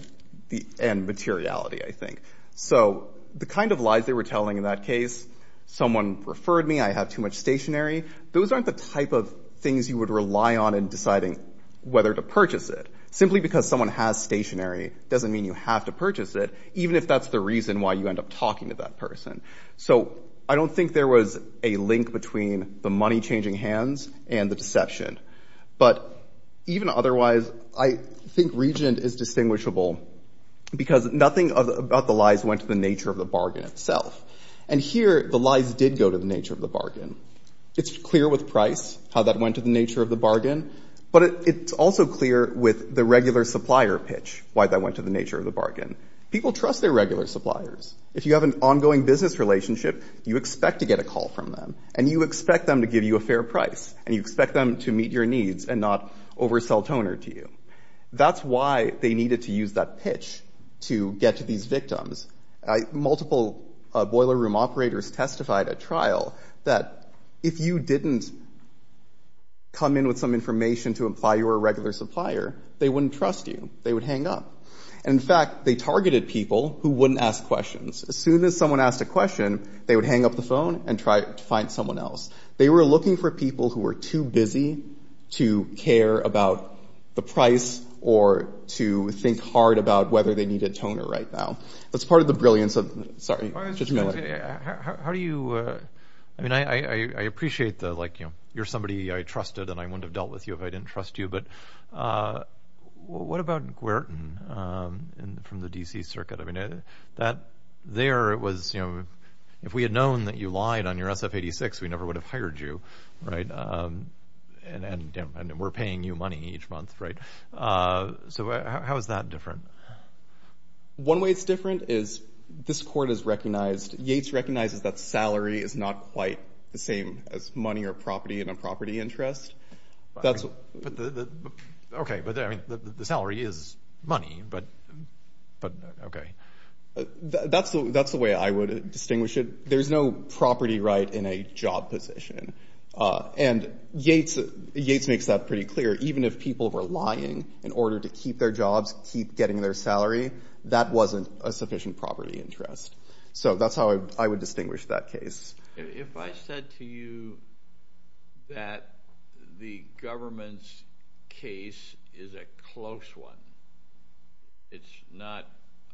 materiality, I think. So the kind of lies they were telling in that case, someone referred me, I have too much stationery, those aren't the type of things you would rely on in deciding whether to purchase it. Simply because someone has stationery doesn't mean you have to purchase it, even if that's the reason why you end up talking to that person. So I don't think there was a link between the money-changing hands and the deception. But even otherwise, I think reason is distinguishable because nothing about the lies went to the nature of the bargain itself. And here, the lies did go to the nature of the bargain. It's clear with price, how that went to the nature of the bargain, but it's also clear with the regular supplier pitch, why that went to the nature of the bargain. People trust their regular suppliers. If you have an ongoing business relationship, you expect to get a call from them, and you expect them to give you a fair price, and you expect them to meet your needs and not oversell toner to you. That's why they needed to use that pitch to get to these victims. Multiple boiler room operators testified at trial that if you didn't come in with some information to imply you were a regular supplier, they wouldn't trust you, they would hang up. In fact, they targeted people who wouldn't ask questions. As soon as someone asked a question, they would hang up the phone and try to find someone else. They were looking for people who were too busy to care about the price or to think hard about whether they needed toner right now. That's part of the brilliance of... Sorry, just a minute. How do you... I mean, I appreciate the, like, you know, you're somebody I trusted, and I wouldn't have dealt with you if I didn't trust you, but what about Guertin from the D.C. circuit? I mean, there it was, you know, if we had known that you lied on your SF-86, we never would have hired you, right? And we're paying you money each month, right? So how is that different? One way it's different is this court has recognized... Yates recognizes that salary is not quite the same as money or property in a property interest. That's... Okay, but the salary is money, but... Okay. That's the way I would distinguish it. There's no property right in a job position. And Yates makes that pretty clear. Even if people were lying in order to keep their jobs, keep getting their salary, that wasn't a sufficient property interest. So that's how I would distinguish that case. If I said to you that the government's case is a close one, it's not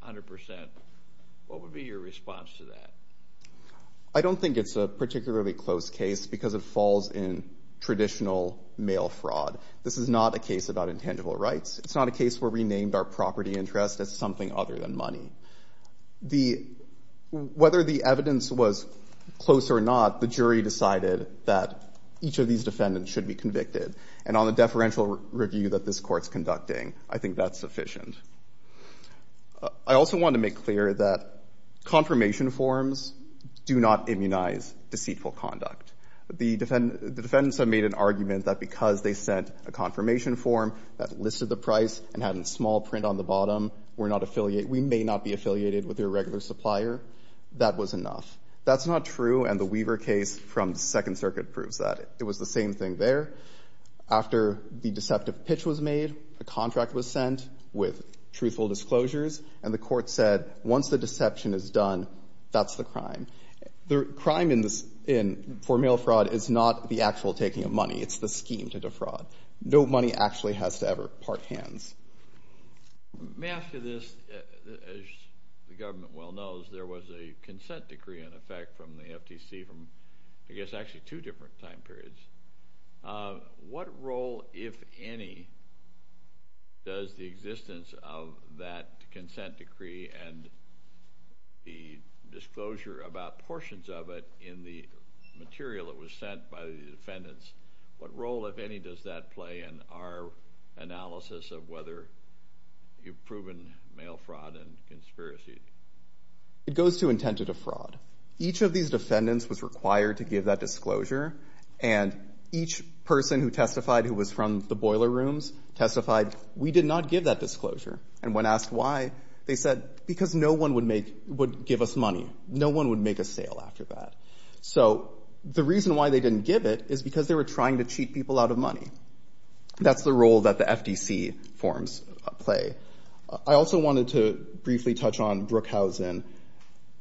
100%, what would be your response to that? I don't think it's a particularly close case because it falls in traditional mail fraud. This is not a case about intangible rights. It's not a case where we named our property interest as something other than money. The... Whether the evidence was close or not, the jury decided that each of these defendants should be convicted. And on the deferential review that this court's conducting, I think that's sufficient. I also want to make clear that confirmation forms do not immunize deceitful conduct. The defendants have made an argument that because they sent a confirmation form that listed the price and had a small print on the bottom, we're not affiliated... We may not be affiliated with their regular supplier. That was enough. That's not true, and the Weaver case from Second Circuit proves that. It was the same thing there. After the deceptive pitch was made, a contract was sent with truthful disclosures, and the court said, once the deception is done, that's the crime. The crime for mail fraud is not the actual taking of money. It's the scheme to defraud. No money actually has to ever part hands. May I ask you this? As the government well knows, there was a consent decree, in effect, from the FTC from, I guess, actually two different time periods. What role, if any, does the existence of that consent decree and the disclosure about portions of it in the material that was sent by the defendants, what role, if any, does that play in our analysis of whether you've proven mail fraud and conspiracies? It goes to intent to defraud. Each of these defendants was required to give that disclosure, and each person who testified who was from the boiler rooms testified, we did not give that disclosure. And when asked why, they said, because no one would give us money. No one would make a sale after that. So the reason why they didn't give it is because they were trying to cheat people out of money. That's the role that the FTC forms play. I also wanted to briefly touch on Brookhausen,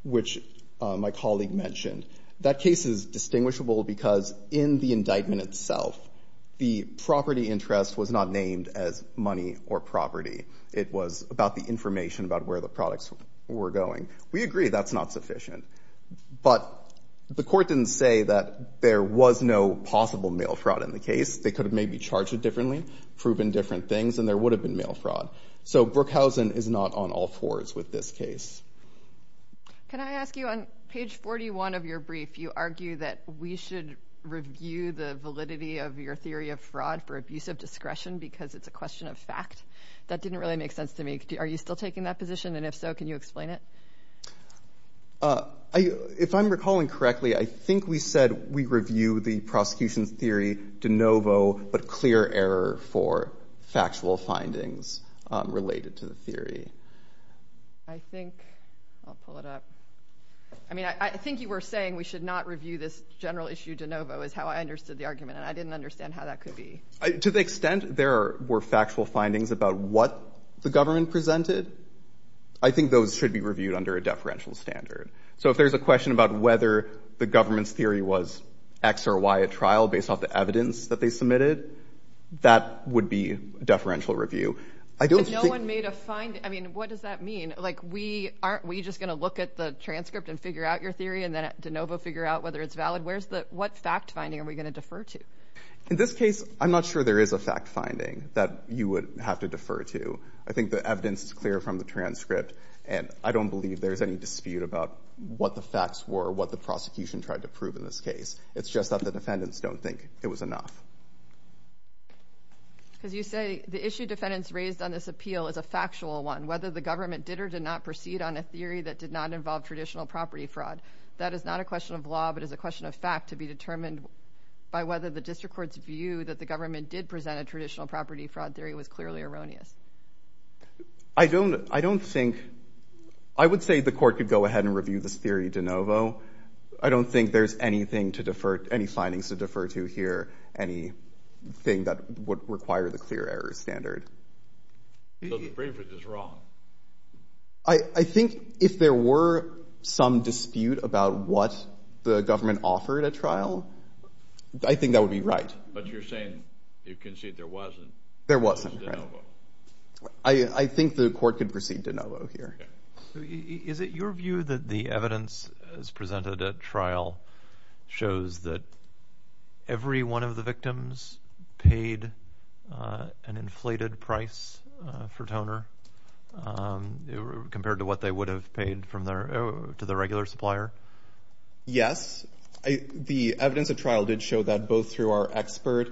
which my colleague mentioned. That case is distinguishable because in the indictment itself, the property interest was not named as money or property. It was about the information about where the products were going. We agree that's not sufficient, but the court didn't say that there was no possible mail fraud in the case. They could have maybe charged it differently, proven different things, and there would have been mail fraud. So Brookhausen is not on all fours with this case. Can I ask you, on page 41 of your brief, you argue that we should review the validity of your theory of fraud for abuse of discretion because it's a question of fact. That didn't really make sense to me. Are you still taking that position? And if so, can you explain it? If I'm recalling correctly, I think we said we review the prosecution theory de novo, but clear error for factual findings related to the theory. I think, I'll pull it up. I mean, I think you were saying we should not review this general issue de novo is how I understood the argument, and I didn't understand how that could be. To the extent there were factual findings about what the government presented, I think those should be reviewed under a deferential standard. So if there's a question about whether the government's theory was X or Y a trial based off the evidence that they submitted, that would be deferential review. No one made a finding. I mean, what does that mean? Like, aren't we just going to look at the transcript and figure out your theory and then de novo figure out whether it's valid? What fact finding are we going to defer to? In this case, I'm not sure there is a fact finding that you would have to defer to. I think the evidence is clear from the transcript, and I don't believe there's any dispute about what the facts were, what the prosecution tried to prove in this case. It's just that the defendants don't think it was enough. As you say, the issue defendants raised on this appeal is a factual one. Whether the government did or did not proceed on a theory that did not involve traditional property fraud, that is not a question of law, but is a question of fact to be determined by whether the district court's view that the government did present a traditional property fraud theory was clearly erroneous. I don't think... I would say the court could go ahead and review this theory de novo. I don't think there's anything to defer, any findings to defer to here, anything that would require the clear error standard. So the preface is wrong? I think if there were some dispute about what the government offered at trial, I think that would be right. But you're saying you concede there wasn't? There wasn't. Okay. I think the court could proceed de novo here. Okay. Is it your view that the evidence as presented at trial shows that every one of the victims paid an inflated price for toner compared to what they would have paid to their regular supplier? Yes. The evidence at trial did show that both through our experts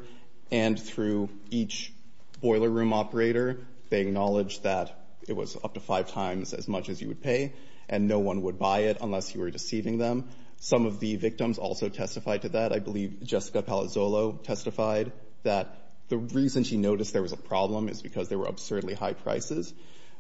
and through each boiler room operator, they acknowledged that it was up to five times as much as you would pay and no one would buy it unless you were deceiving them. Some of the victims also testified to that. I believe Jessica Palazzolo testified that the reason she noticed there was a problem is because there were absurdly high prices.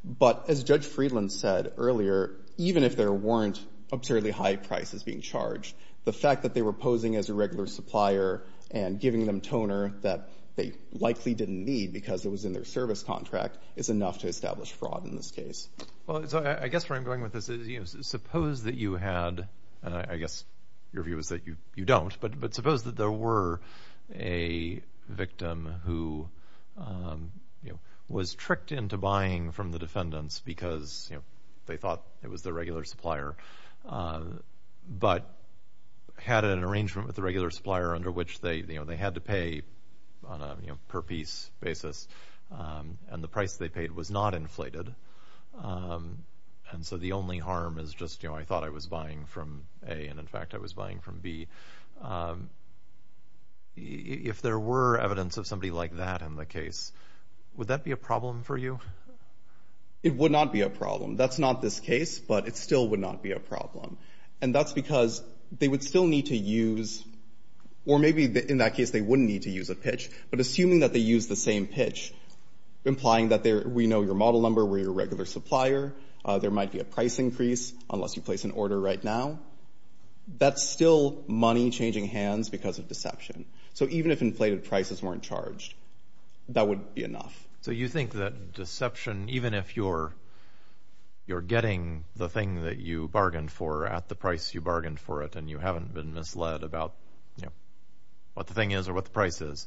But as Judge Friedland said earlier, even if there weren't absurdly high prices being charged, the fact that they were posing as a regular supplier and giving them toner that they likely didn't need because it was in their service contract is enough to establish fraud in this case. Well, I guess where I'm going with this is suppose that you had, and I guess your view is that you don't, but suppose that there were a victim who was tricked into buying from the defendants because they thought it was their regular supplier but had an arrangement with the regular supplier under which they had to pay on a per piece basis and the price they paid was not inflated and so the only harm is just, you know, I thought I was buying from A and in fact I was buying from B. If there were evidence of somebody like that in the case, would that be a problem for you? It would not be a problem. That's not this case, but it still would not be a problem. And that's because they would still need to use, or maybe in that case they wouldn't need to use a pitch, but assuming that they used the same pitch, implying that we know your model number, we're your regular supplier, there might be a price increase unless you place an order right now, that's still money changing hands because of deception. So even if inflated prices weren't charged, that would be enough. So you think that deception, even if you're getting the thing that you bargained for at the price you bargained for it and you haven't been misled about what the thing is or what the price is,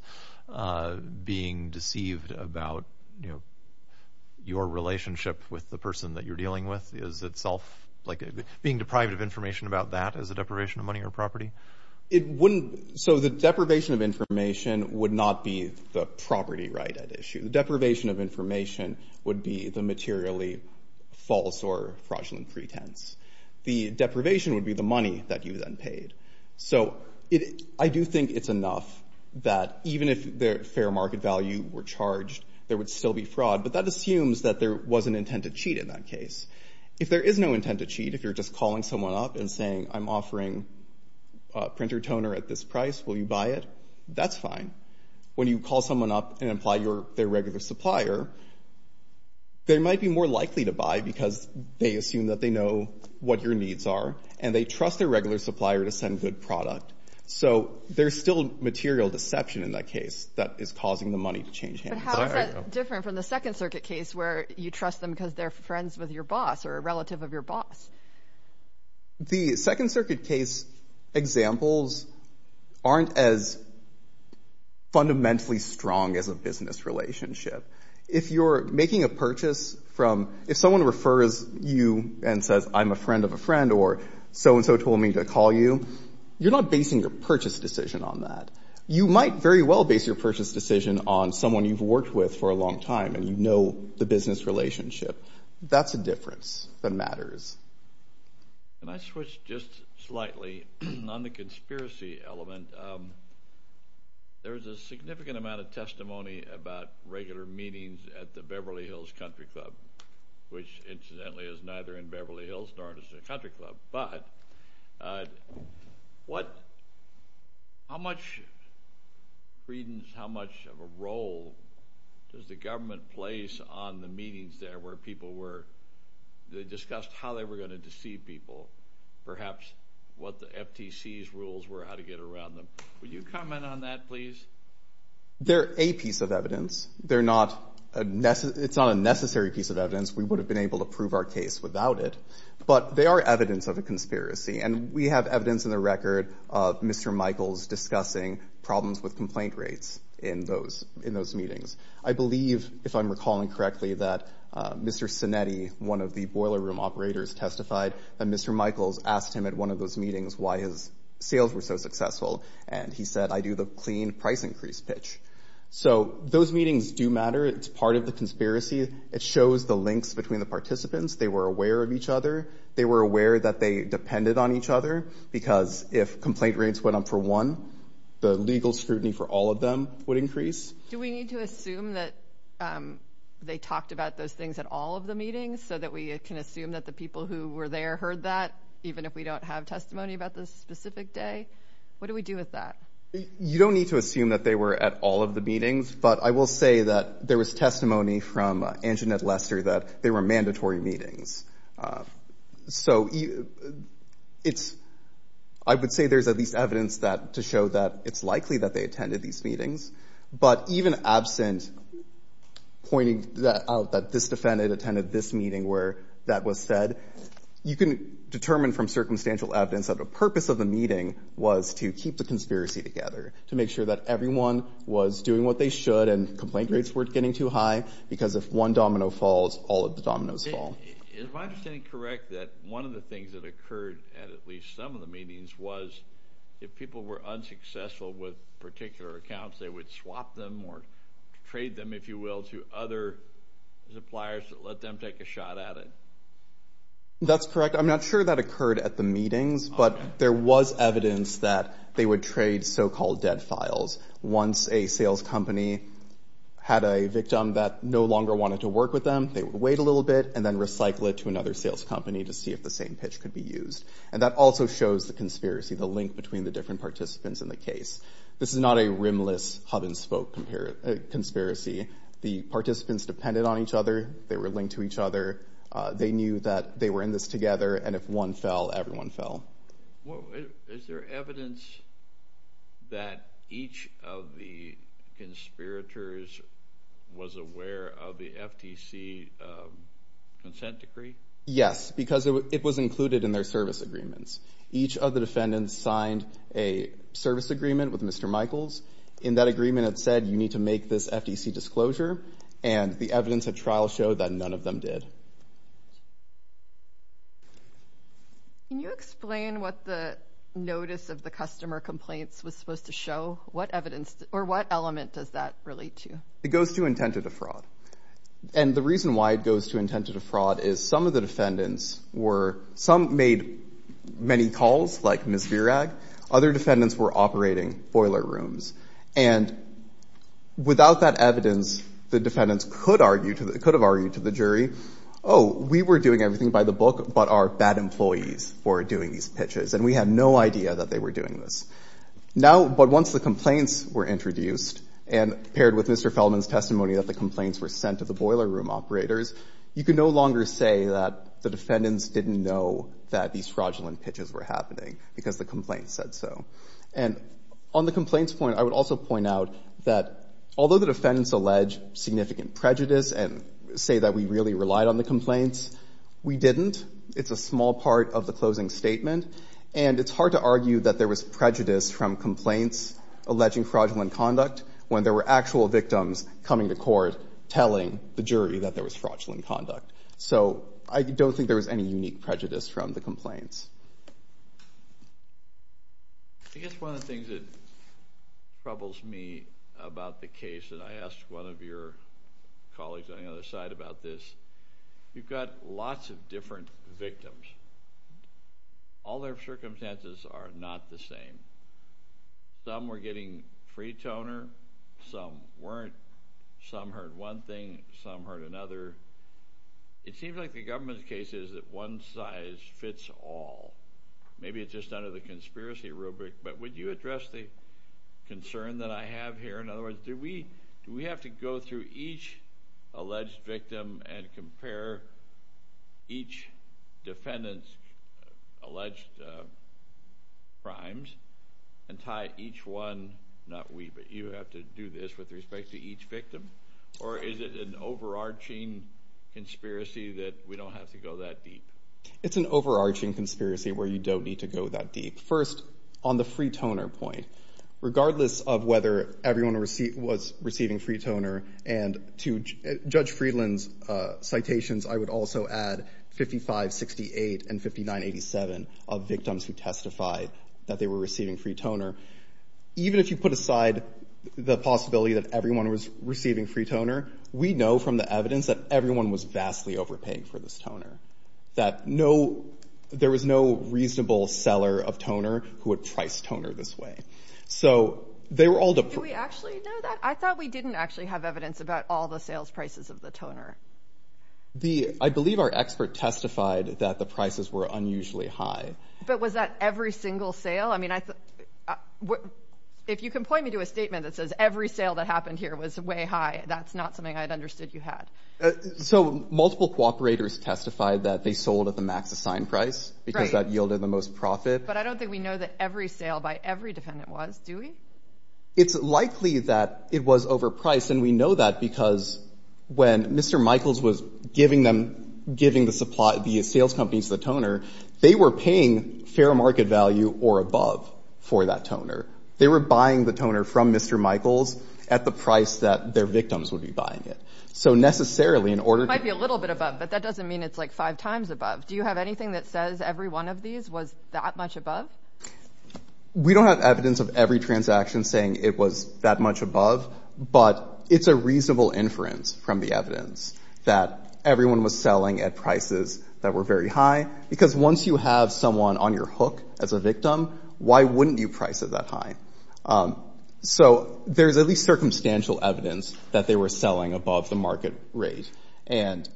being deceived about your relationship with the person that you're dealing with is itself being deprived of information about that as a deprivation of money or property? So the deprivation of information would not be the property right at issue. The deprivation of information would be the materially false or fraudulent pretense. The deprivation would be the money that you then paid. So I do think it's enough that even if the fair market value were charged, there would still be fraud, but that assumes that there was an intent to cheat in that case. If there is no intent to cheat, if you're just calling someone up and saying, I'm offering a printer toner at this price, will you buy it? That's fine. When you call someone up and imply you're their regular supplier, they might be more likely to buy because they assume that they know what your needs are and they trust their regular supplier to send good product. So there's still material deception in that case that is causing the money to change hands. But how is that different from the Second Circuit case where you trust them because they're friends with your boss or a relative of your boss? The Second Circuit case examples aren't as fundamentally strong as a business relationship. If you're making a purchase from... If someone refers you and says, I'm a friend of a friend or so-and-so told me to call you, you're not basing your purchase decision on that. You might very well base your purchase decision on someone you've worked with for a long time and you know the business relationship. That's the difference that matters. Can I switch just slightly on the conspiracy element? There's a significant amount of testimony about regular meetings at the Beverly Hills Country Club, which incidentally is neither in Beverly Hills nor Beverly Hills, darn it, is a country club. But how much credence, how much of a role does the government place on the meetings there where they discussed how they were going to deceive people? Perhaps what the FTC's rules were, how to get around them. Would you comment on that, please? They're a piece of evidence. It's not a necessary piece of evidence. We would have been able to prove our case without it. But they are evidence of a conspiracy. And we have evidence in the record of Mr. Michaels discussing problems with complaint rates in those meetings. I believe, if I'm recalling correctly, that Mr. Sinetti, one of the boiler room operators, testified that Mr. Michaels asked him at one of those meetings why his sales were so successful. And he said, I do the clean price increase pitch. So those meetings do matter. It's part of the conspiracy. It shows the links between the participants. They were aware of each other. They were aware that they depended on each other. Because if complaint rates went up for one, the legal scrutiny for all of them would increase. Do we need to assume that they talked about those things at all of the meetings so that we can assume that the people who were there heard that, even if we don't have testimony about the specific day? What do we do with that? You don't need to assume that they were at all of the meetings. But I will say that there was testimony from Anjanette Lester that they were mandatory meetings. I would say there's at least evidence to show that it's likely that they attended these meetings. But even absent pointing out that this defendant attended this meeting where that was said, you can determine from circumstantial evidence that the purpose of the meeting was to keep the conspiracy together, to make sure that everyone was doing what they should and complaint rates weren't getting too high. Because if one domino falls, all of the dominoes fall. Is my understanding correct that one of the things that occurred at at least some of the meetings was if people were unsuccessful with particular accounts, they would swap them or trade them, if you will, to other suppliers to let them take a shot at it? That's correct. I'm not sure that occurred at the meetings, but there was evidence that they would trade so-called dead files. Once a sales company had a victim that no longer wanted to work with them, they would wait a little bit and then recycle it to another sales company to see if the same pitch could be used. And that also shows the conspiracy, the link between the different participants in the case. This is not a rimless hub-and-spoke conspiracy. The participants depended on each other. They were linked to each other. They knew that they were in this together. And if one fell, everyone fell. Is there evidence that each of the conspirators was aware of the FTC consent decree? Yes, because it was included in their service agreements. Each of the defendants signed a service agreement with Mr. Michaels. In that agreement, it said you need to make this FTC disclosure, and the evidence of trial showed that none of them did. Can you explain what the notice of the customer complaints was supposed to show? What element does that relate to? It goes to intent of the fraud. And the reason why it goes to intent of the fraud is some of the defendants were... Some made many calls, like Ms. Virag. Other defendants were operating boiler rooms. And without that evidence, the defendants could have argued to the jury, oh, we were doing everything by the book, but our bad employees were doing these pitches, and we had no idea that they were doing this. Now, but once the complaints were introduced and paired with Mr. Feldman's testimony that the complaints were sent to the boiler room operators, you could no longer say that the defendants didn't know that these fraudulent pitches were happening because the complaint said so. And on the complaints point, I would also point out that although the defendants allege significant prejudice and say that we really relied on the complaints, we didn't. It's a small part of the closing statement. And it's hard to argue that there was prejudice from complaints alleging fraudulent conduct when there were actual victims coming to court telling the jury that there was fraudulent conduct. So I don't think there was any unique prejudice from the complaints. I guess one of the things that troubles me about the case, and I asked one of your colleagues on the other side about this, you've got lots of different victims. All their circumstances are not the same. Some were getting free toner. Some weren't. Some heard one thing. Some heard another. It seems like the government's case is that one size fits all. Maybe it's just under the conspiracy rubric, but would you address the concern that I have here? In other words, do we have to go through each alleged victim and compare each defendant's alleged crimes and tie each one, not we, but you have to do this with respect to each victim? Or is it an overarching conspiracy that we don't have to go that deep? It's an overarching conspiracy where you don't need to go that deep. First, on the free toner point, regardless of whether everyone was receiving free toner, and to Judge Friedland's citations, I would also add 55, 68, and 59, 87 of victims who testified that they were receiving free toner. Even if you put aside the possibility that everyone was receiving free toner, that there was no reasonable seller of toner who would price toner this way. Do we actually know that? I thought we didn't actually have evidence about all the sales prices of the toner. I believe our expert testified that the prices were unusually high. But was that every single sale? If you can point me to a statement that says, every sale that happened here was way high, that's not something I've understood you had. Multiple cooperators testified that they sold at the max assigned price because that yielded the most profit. But I don't think we know that every sale by every defendant was, do we? It's likely that it was overpriced, and we know that because when Mr. Michaels was giving the sales company the toner, they were paying fair market value or above for that toner. They were buying the toner from Mr. Michaels at the price that their victims would be buying it. It might be a little bit above, but that doesn't mean it's like five times above. Do you have anything that says every one of these was that much above? We don't have evidence of every transaction saying it was that much above, but it's a reasonable inference from the evidence that everyone was selling at prices that were very high because once you have someone on your hook as a victim, why wouldn't you price it that high? So there's at least circumstantial evidence that they were selling above the market rate. And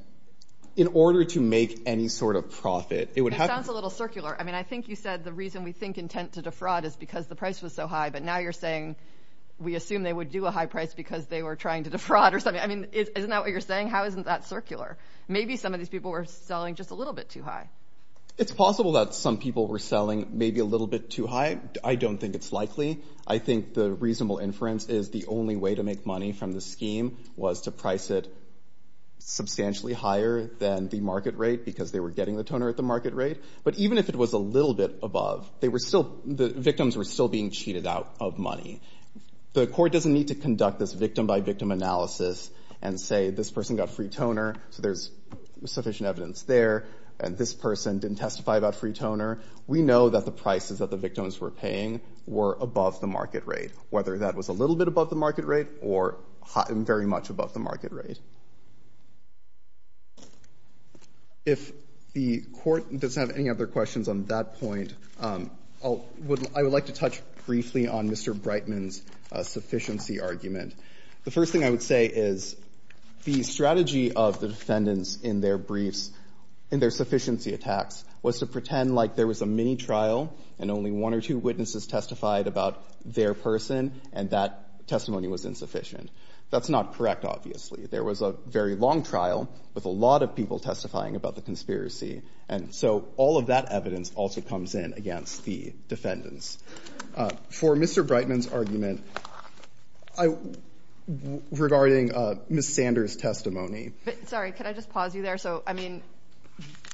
in order to make any sort of profit, it would have to be— It sounds a little circular. I mean, I think you said the reason we think intent to defraud is because the price was so high, but now you're saying we assume they would do a high price because they were trying to defraud or something. I mean, isn't that what you're saying? How is that circular? Maybe some of these people were selling just a little bit too high. It's possible that some people were selling maybe a little bit too high. I don't think it's likely. I think the reasonable inference is the only way to make money from the scheme was to price it substantially higher than the market rate because they were getting the toner at the market rate. But even if it was a little bit above, the victims were still being cheated out of money. The court doesn't need to conduct this victim-by-victim analysis and say this person got free toner, so there's sufficient evidence there, and this person didn't testify about free toner. We know that the prices that the victims were paying were above the market rate, whether that was a little bit above the market rate or very much above the market rate. If the court does not have any other questions on that point, I would like to touch briefly on Mr. Brightman's sufficiency argument. The first thing I would say is the strategy of the defendants in their briefs, in their sufficiency attacks, was to pretend like there was a mini trial and only one or two witnesses testified about their person, and that testimony was insufficient. That's not correct, obviously. There was a very long trial with a lot of people testifying about the conspiracy, and so all of that evidence also comes in against the defendants. For Mr. Brightman's argument regarding Ms. Stander's testimony— Sorry, can I just pause you there? I mean,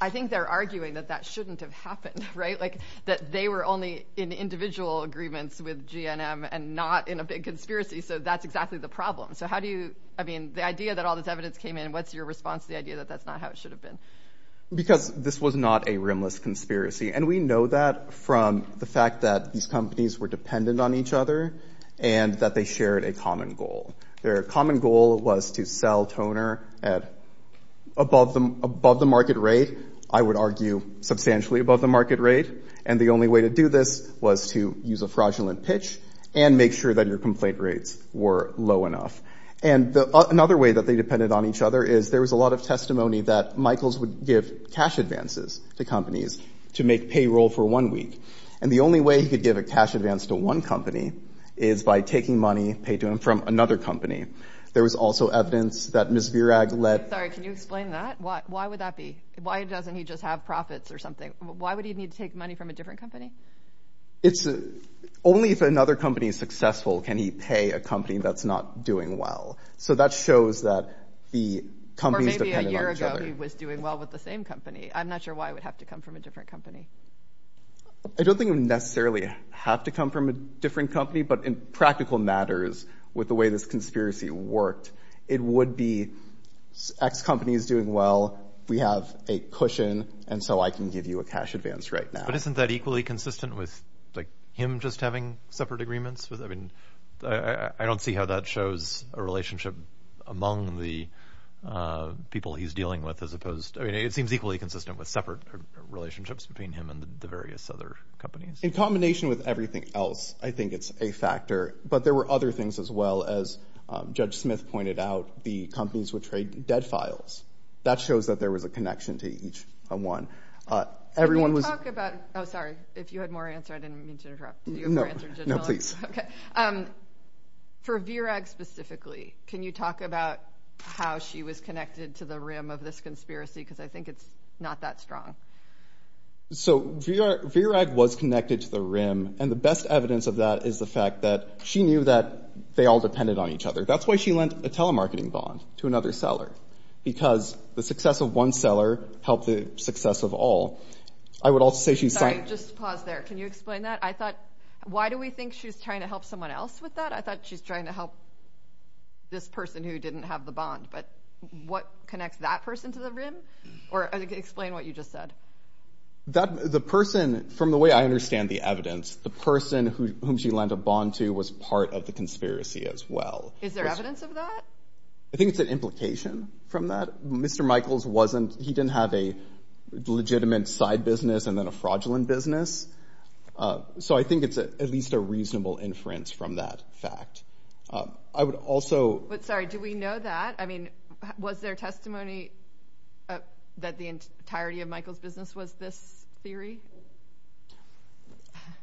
I think they're arguing that that shouldn't have happened, right? That they were only in individual agreements with GNM and not in a big conspiracy, so that's exactly the problem. So how do you—I mean, the idea that all this evidence came in, what's your response to the idea that that's not how it should have been? Because this was not a rimless conspiracy, and we know that from the fact that these companies were dependent on each other and that they shared a common goal. Their common goal was to sell toner above the market rate, I would argue substantially above the market rate, and the only way to do this was to use a fraudulent pitch and make sure that your complaint rates were low enough. And another way that they depended on each other is there was a lot of testimony that Michaels would give cash advances to companies to make payroll for one week, and the only way he could give a cash advance to one company is by taking money paid to him from another company. There was also evidence that Ms. Virag let— Sorry, can you explain that? Why would that be? Why doesn't he just have profits or something? Why would he need to take money from a different company? It's—only if another company is successful can he pay a company that's not doing well. So that shows that the company is dependent on each other. Or maybe a year ago he was doing well with the same company. I'm not sure why it would have to come from a different company. It doesn't necessarily have to come from a different company, but in practical matters, with the way this conspiracy worked, it would be X company is doing well, we have a cushion, and so I can give you a cash advance right now. But isn't that equally consistent with him just having separate agreements? I mean, I don't see how that shows a relationship among the people he's dealing with as opposed—I mean, it seems equally consistent with separate relationships between him and the various other companies. In combination with everything else, I think it's a factor. But there were other things as well. As Judge Smith pointed out, the companies would trade debt files. That shows that there was a connection to each one. Everyone was— Can you talk about—oh, sorry. If you had more answers, I didn't mean to interrupt. No, no, please. Okay. For Virag specifically, can you talk about how she was connected to the rim of this conspiracy? Because I think it's not that strong. So Virag was connected to the rim, and the best evidence of that is the fact that she knew that they all depended on each other. That's why she lent a telemarketing bond to another seller, because the success of one seller helped the success of all. I would also say she— Sorry, just pause there. Can you explain that? I thought—why do we think she was trying to help someone else with that? I thought she was trying to help this person who didn't have the bond. But what connects that person to the rim? Or explain what you just said. The person, from the way I understand the evidence, the person whom she lent a bond to was part of the conspiracy as well. Is there evidence of that? I think it's an implication from that. Mr. Michaels wasn't—he didn't have a legitimate side business and then a fraudulent business. So I think it's at least a reasonable inference from that fact. I would also— Sorry, do we know that? I mean, was there testimony that the entirety of Michaels' business was this theory?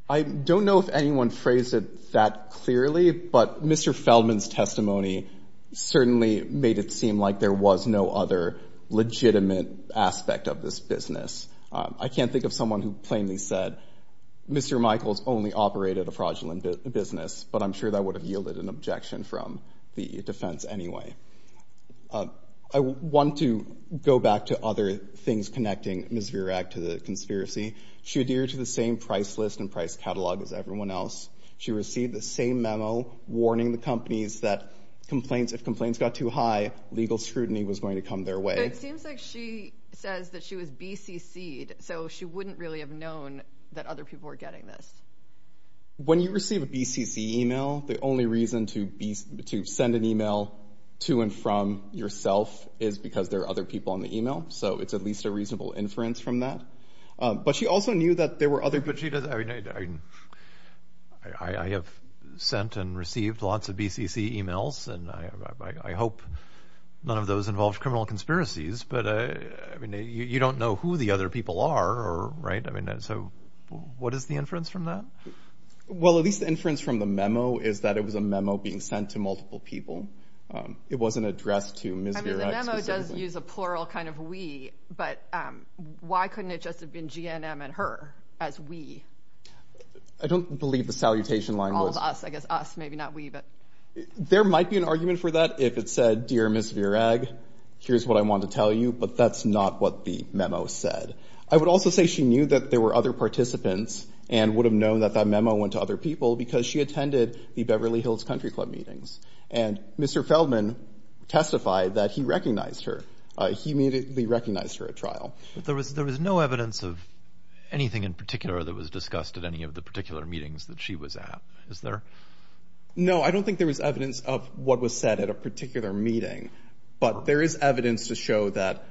I don't know if anyone phrased it that clearly, but Mr. Feldman's testimony certainly made it seem like there was no other legitimate aspect of this business. I can't think of someone who plainly said, Mr. Michaels only operated a fraudulent business, but I'm sure that would have yielded an objection from the defense anyway. I want to go back to other things connecting Ms. Virack to the conspiracy. She adhered to the same price list and price catalog as everyone else. She received the same memo warning the companies that if complaints got too high, legal scrutiny was going to come their way. So it seems like she says that she was BCC'd, so she wouldn't really have known that other people were getting this. When you receive a BCC email, the only reason to send an email to and from yourself is because there are other people on the email. So it's at least a reasonable inference from that. But she also knew that there were other— I have sent and received lots of BCC emails, and I hope none of those involve criminal conspiracies, but you don't know who the other people are, right? So what is the inference from that? Well, at least the inference from the memo is that it was a memo being sent to multiple people. It wasn't addressed to Ms. Virack. The memo does use a plural kind of we, but why couldn't it just have been GNM and her as we? I don't believe the salutation line was— All of us, I guess us, maybe not we, but— There might be an argument for that if it said, Dear Ms. Virack, here's what I want to tell you, but that's not what the memo said. I would also say she knew that there were other participants and would have known that that memo went to other people because she attended the Beverly Hills Country Club meetings. And Mr. Feldman testified that he recognized her. He immediately recognized her at trial. There was no evidence of anything in particular that was discussed at any of the particular meetings that she was at, is there? No, I don't think there was evidence of what was said at a particular meeting, but there is evidence to show that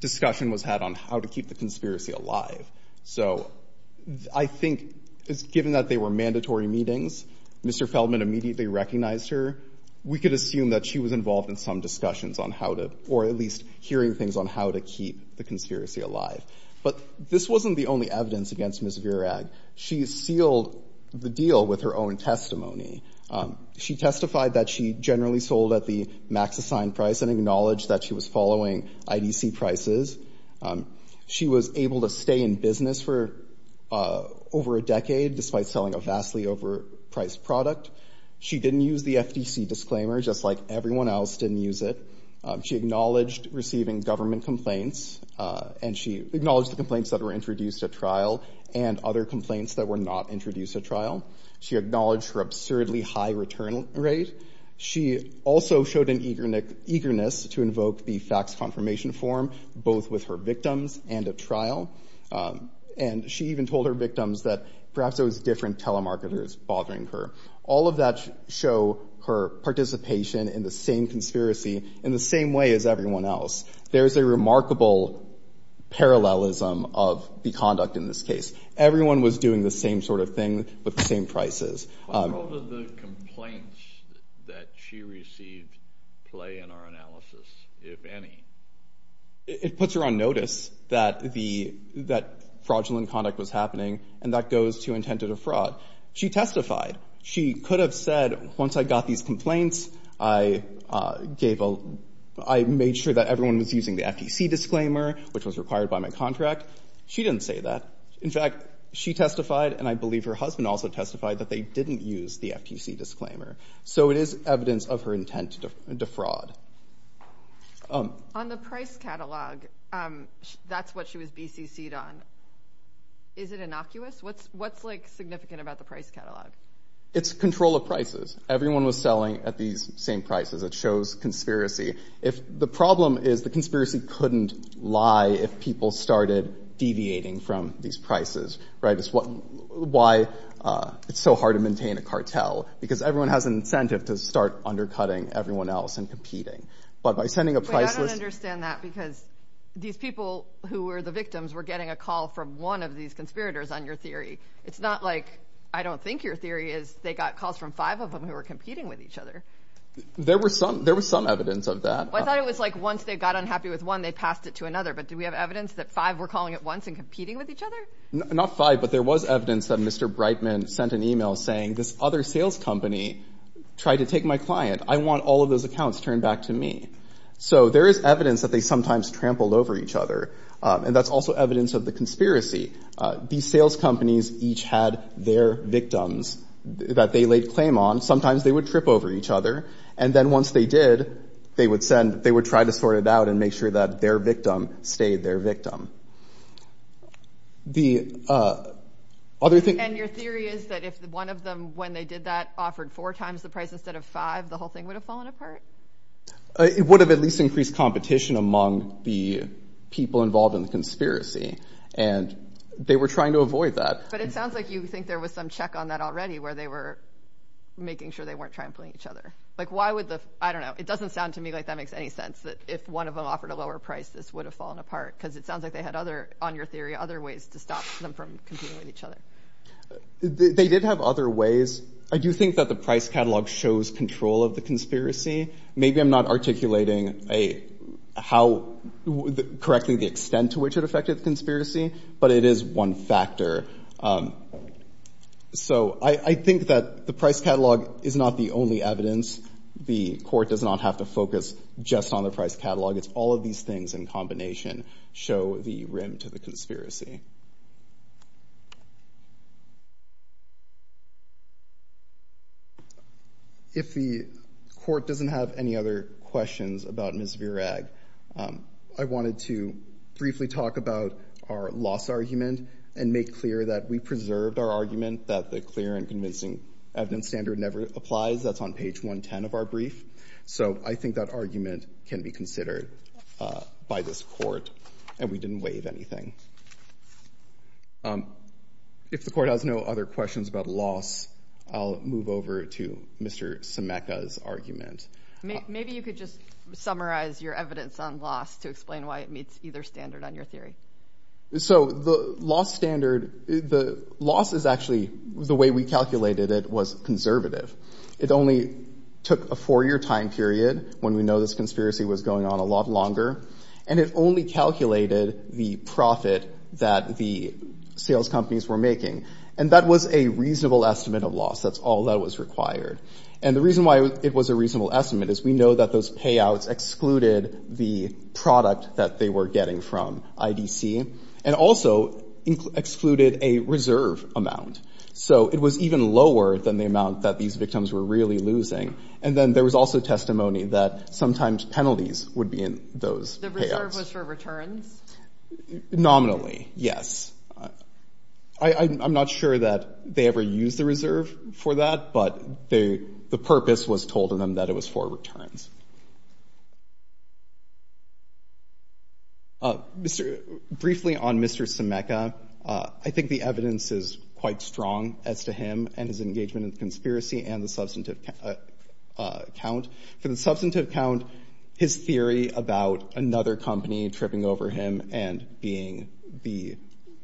discussion was had on how to keep the conspiracy alive. So I think, given that they were mandatory meetings, Mr. Feldman immediately recognized her. We could assume that she was involved in some discussions on how to— or at least hearing things on how to keep the conspiracy alive. But this wasn't the only evidence against Ms. Virack. She sealed the deal with her own testimony. She testified that she generally sold at the max assigned price and acknowledged that she was following IDC prices. She was able to stay in business for over a decade despite selling a vastly overpriced product. She didn't use the FTC disclaimer just like everyone else didn't use it. She acknowledged receiving government complaints and she acknowledged the complaints that were introduced at trial and other complaints that were not introduced at trial. She acknowledged her absurdly high return rate. She also showed an eagerness to invoke the fax confirmation form, both with her victims and at trial. And she even told her victims that perhaps there was different telemarketers bothering her. All of that showed her participation in the same conspiracy in the same way as everyone else. There's a remarkable parallelism of the conduct in this case. Everyone was doing the same sort of thing with the same prices. How does the complaints that she received play in our analysis, if any? It puts her on notice that fraudulent conduct was happening and that those two intended a fraud. She testified. She could have said, once I got these complaints, I made sure that everyone was using the FTC disclaimer, which was required by my contract. She didn't say that. In fact, she testified and I believe her husband also testified that they didn't use the FTC disclaimer. So it is evidence of her intent to defraud. On the price catalog, that's what she was BCC'd on. Is it innocuous? What's significant about the price catalog? It's control of prices. Everyone was selling at these same prices. It shows conspiracy. The problem is the conspiracy couldn't lie if people started deviating from these prices. It's why it's so hard to maintain a cartel, because everyone has an incentive to start undercutting everyone else and competing. I don't understand that because these people who were the victims were getting a call from one of these conspirators on your theory. It's not like I don't think your theory is they got calls from five of them who were competing with each other. There was some evidence of that. I thought it was like once they got unhappy with one, they passed it to another. But do we have evidence that five were calling at once and competing with each other? Not five, but there was evidence that Mr. Brightman sent an email saying, this other sales company tried to take my client. I want all of those accounts turned back to me. So there is evidence that they sometimes trampled over each other, and that's also evidence of the conspiracy. These sales companies each had their victims that they laid claim on. Sometimes they would trip over each other. And then once they did, they would send, they would try to sort it out and make sure that their victim stayed their victim. And your theory is that if one of them, when they did that, offered four times the price instead of five, the whole thing would have fallen apart? It would have at least increased competition among the people involved in the conspiracy. And they were trying to avoid that. But it sounds like you think there was some check on that already where they were making sure they weren't trampling each other. Like why would the, I don't know, it doesn't sound to me like that makes any sense that if one of them offered a lower price, this would have fallen apart. Because it sounds like they had other, on your theory, other ways to stop them from competing with each other. They did have other ways. I do think that the price catalog shows control of the conspiracy. Maybe I'm not articulating how, correcting the extent to which it affected the conspiracy, but it is one factor. So I think that the price catalog is not the only evidence. The court does not have to focus just on the price catalog. It's all of these things in combination show the rim to the conspiracy. If the court doesn't have any other questions about Ms. Virag, I wanted to briefly talk about our loss argument and make clear that we preserved our argument that the clear and convincing evidence standard never applies. That's on page 110 of our brief. So I think that argument can be considered by this court. And we didn't waive anything. If the court has no other questions about loss, I'll move over to Mr. Sameka's argument. Maybe you could just summarize your evidence on loss to explain why it meets either standard on your theory. So the loss standard, the loss is actually the way we calculated it was conservative. It only took a four-year time period when we know this conspiracy was going on a lot longer. And it only calculated the profit that the sales companies were making. And that was a reasonable estimate of loss. That's all that was required. And the reason why it was a reasonable estimate is we know that those payouts excluded the product that they were getting from IDC and also excluded a reserve amount. So it was even lower than the amount that these victims were really losing. And then there was also testimony that sometimes penalties would be in those payouts. The reserve was for return? Nominally, yes. I'm not sure that they ever used the reserve for that, but the purpose was told to them that it was for return. Briefly on Mr. Sameka, I think the evidence is quite strong as to him and his engagement in conspiracy and the substantive count. For the substantive count, his theory about another company tripping over him and being the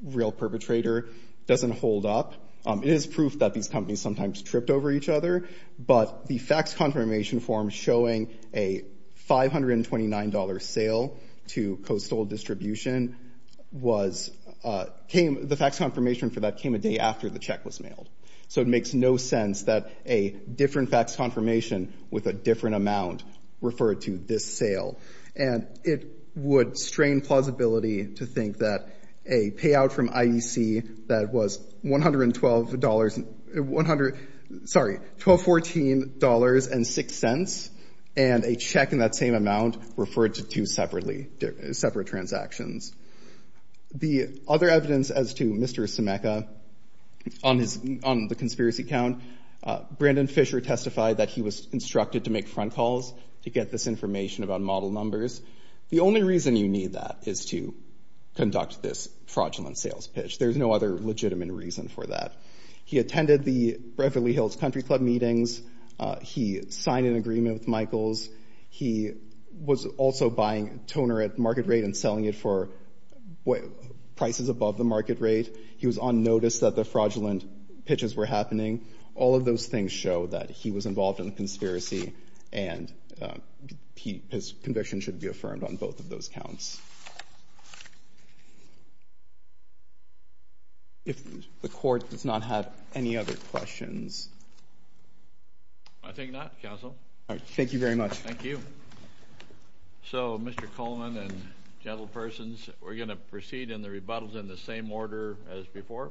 real perpetrator doesn't hold up. It is proof that these companies sometimes tripped over each other, but the fax confirmation form showing a $529 sale to Coastal Distribution was...the fax confirmation for that came a day after the check was mailed. So it makes no sense that a different fax confirmation with a different amount referred to this sale. And it would strain plausibility to think that a payout from IEC that was $112... Sorry, $1214.06 and a check in that same amount referred to two separate transactions. The other evidence as to Mr. Sameka on the conspiracy count, Brandon Fisher testified that he was instructed to make front calls to get this information about model numbers. The only reason you need that is to conduct this fraudulent sales pitch. There's no other legitimate reason for that. He attended the Beverly Hills Country Club meetings. He signed an agreement with Michaels. He was also buying toner at market rate and selling it for prices above the market rate. He was on notice that the fraudulent pitches were happening. All of those things show that he was involved in a conspiracy and his conviction should be affirmed on both of those counts. If the court does not have any other questions... I think not, counsel. All right, thank you very much. Thank you. So, Mr. Coleman and gentlepersons, we're going to proceed in the rebuttals in the same order as before?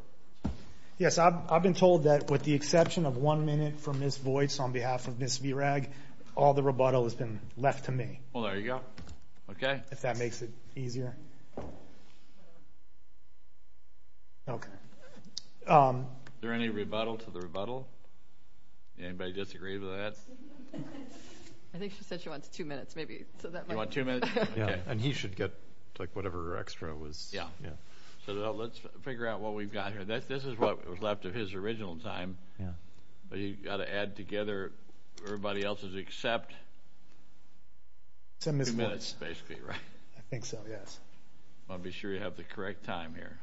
Yes, I've been told that with the exception of one minute from Ms. Boyce on behalf of Ms. Virag, all the rebuttal has been left to me. Well, there you go. Okay. If that makes it easier. Okay. Is there any rebuttal to the rebuttal? Anybody disagree with that? I think she said she wants two minutes, maybe. You want two minutes? Yeah, and he should get, like, whatever extra was... Yeah. So, let's figure out what we've got here. This is what was left of his original time, but he's got to add together everybody else's except two minutes, basically, right? I think so, yes. I want to be sure you have the correct time here.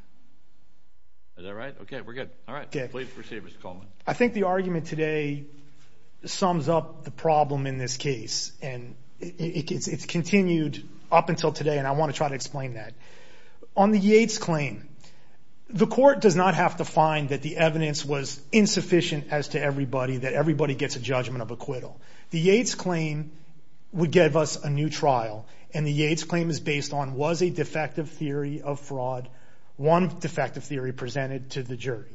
Is that right? Okay, we're good. All right, please proceed, Mr. Coleman. I think the argument today sums up the problem in this case, and it's continued up until today, and I want to try to explain that. On the Yates claim, the court does not have to find that the evidence was insufficient as to everybody, that everybody gets a judgment of acquittal. The Yates claim would give us a new trial, and the Yates claim is based on was a defective theory of fraud, one defective theory presented to the jury.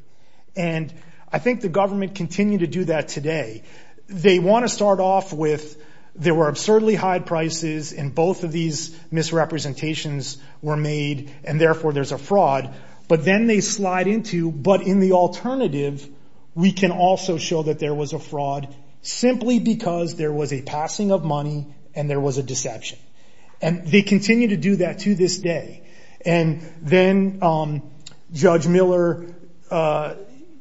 And I think the government continue to do that today. They want to start off with there were absurdly high prices, and both of these misrepresentations were made, and therefore there's a fraud. But then they slide into, but in the alternative, we can also show that there was a fraud simply because there was a passing of money and there was a deception. And they continue to do that to this day. And then Judge Miller,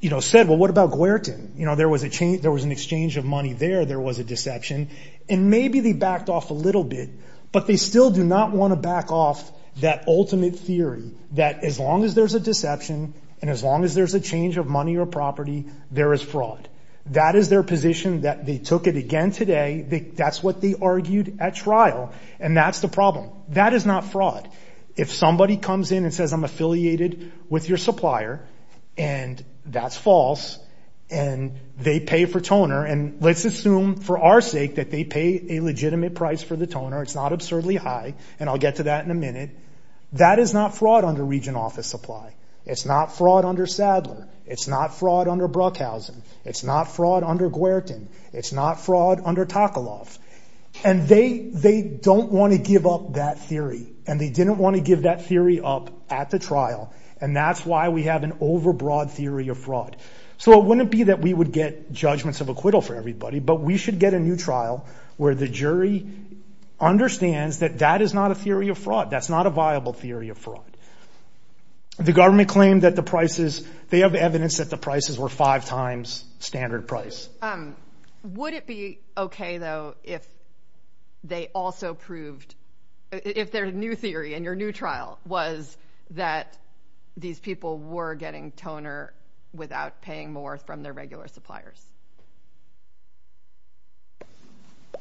you know, said, well, what about Guertin? You know, there was an exchange of money there. There was a deception. And maybe they backed off a little bit, but they still do not want to back off that ultimate theory that as long as there's a deception and as long as there's a change of money or property, there is fraud. That is their position that they took it again today. That's what they argued at trial, and that's the problem. That is not fraud. If somebody comes in and says I'm affiliated with your supplier, and that's false, and they pay for toner, and let's assume for our sake that they pay a legitimate price for the toner, it's not absurdly high, and I'll get to that in a minute, that is not fraud under region office supply. It's not fraud under Sadler. It's not fraud under Bruckhausen. It's not fraud under Guertin. It's not fraud under Takaloff. And they don't want to give up that theory, and they didn't want to give that theory up at the trial, and that's why we have an overbroad theory of fraud. So it wouldn't be that we would get judgments of acquittal for everybody, but we should get a new trial where the jury understands that that is not a theory of fraud. That's not a viable theory of fraud. The government claimed that the prices, they have evidence that the prices were five times standard price. Would it be okay, though, if they also proved, if their new theory in your new trial was that these people were getting toner without paying more from their regular suppliers?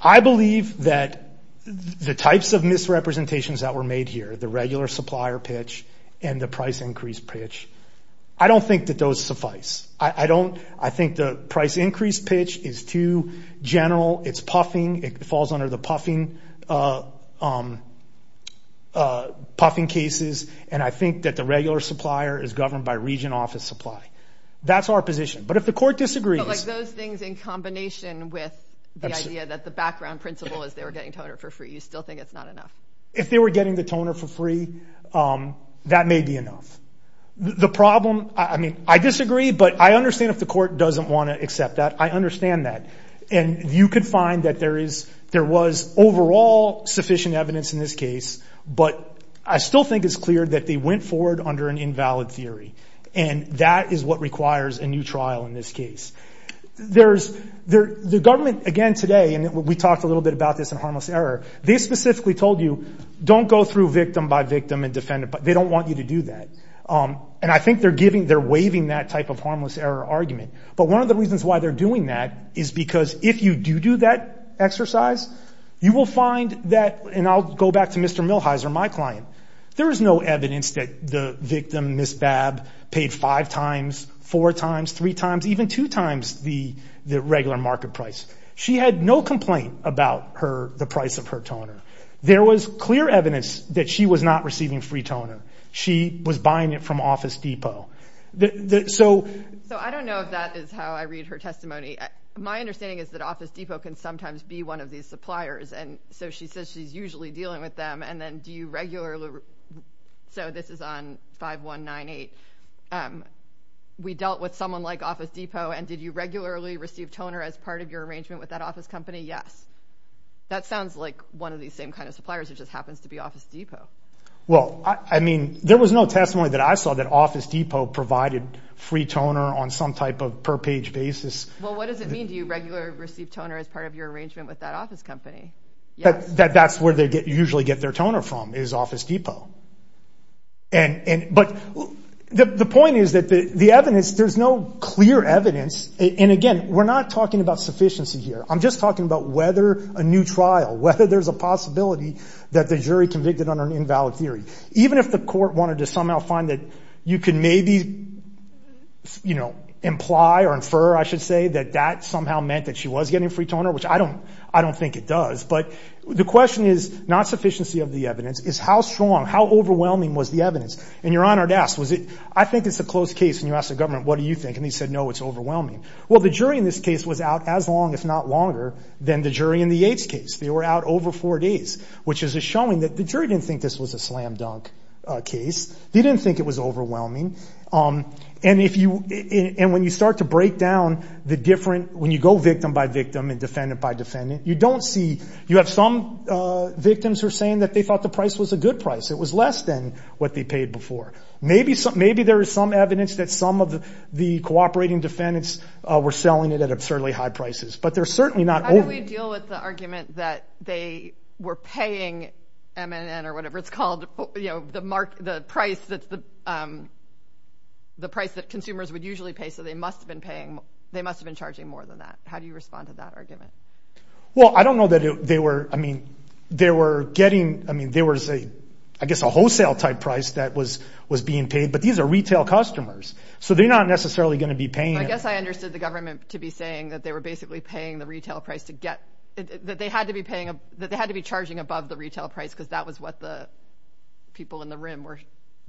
I believe that the types of misrepresentations that were made here, the regular supplier pitch and the price increase pitch, I don't think that those suffice. I think the price increase pitch is too general. It's puffing. It falls under the puffing cases, and I think that the regular supplier is governed by region office supply. That's our position. But if the court disagrees... But those things in combination with the idea that the background principle is they were getting toner for free, you still think it's not enough? If they were getting the toner for free, that may be enough. The problem, I mean, I disagree, but I understand if the court doesn't want to accept that. I understand that. And you could find that there was overall sufficient evidence in this case, but I still think it's clear that they went forward under an invalid theory, and that is what requires a new trial in this case. The government, again, today, and we talked a little bit about this in Harmless Error, they specifically told you don't go through victim by victim and defendant by... They don't want you to do that. And I think they're giving... They're waiving that type of Harmless Error argument. But one of the reasons why they're doing that is because if you do do that exercise, you will find that... And I'll go back to Mr. Millhiser, my client. There is no evidence that the victim, Ms. Babb, paid five times, four times, three times, even two times the regular market price. She had no complaint about the price of her toner. There was clear evidence that she was not receiving free toner. She was buying it from Office Depot. So... So I don't know if that is how I read her testimony. My understanding is that Office Depot can sometimes be one of these suppliers, and so she says she's usually dealing with them, and then do you regularly... So this is on 5198. We dealt with someone like Office Depot, and did you regularly receive toner as part of your arrangement with that office company? Yes. That sounds like one of these same kind of suppliers. It just happens to be Office Depot. Well, I mean, there was no testimony that I saw that Office Depot provided free toner on some type of per-page basis. Well, what does it mean? Do you regularly receive toner as part of your arrangement with that office company? That's where they usually get their toner from is Office Depot. But the point is that the evidence, there's no clear evidence, and again, we're not talking about sufficiency here. I'm just talking about whether a new trial, whether there's a possibility that the jury convicted under an invalid theory. Even if the court wanted to somehow find that you could maybe imply or infer, I should say, that that somehow meant that she was getting free toner, which I don't think it does, but the question is not sufficiency of the evidence, it's how strong, how overwhelming was the evidence. And Your Honor asked, I think it's a closed case, and you asked the government, what do you think, and he said, no, it's overwhelming. Well, the jury in this case was out as long, if not longer, than the jury in the Yates case. They were out over four days, which is a showing that the jury didn't think this was a slam dunk case. They didn't think it was overwhelming. And when you start to break down the different, when you go victim by victim and defendant by defendant, you don't see, you have some victims who are saying that they thought the price was a good price. It was less than what they paid before. Maybe there is some evidence that some of the cooperating defendants were selling it at absurdly high prices, but they're certainly not over. How do we deal with the argument that they were paying MNN or whatever it's called, the price that consumers would usually pay, so they must have been paying, they must have been charging more than that. How do you respond to that argument? Well, I don't know that they were, I mean, they were getting, I mean, there was a, I guess a wholesale type price that was being paid, but these are retail customers, so they're not necessarily going to be paying. I guess I understood the government to be saying that they were basically paying the retail price to get, that they had to be paying, that they had to be charging above the retail price, because that was what the people in the room were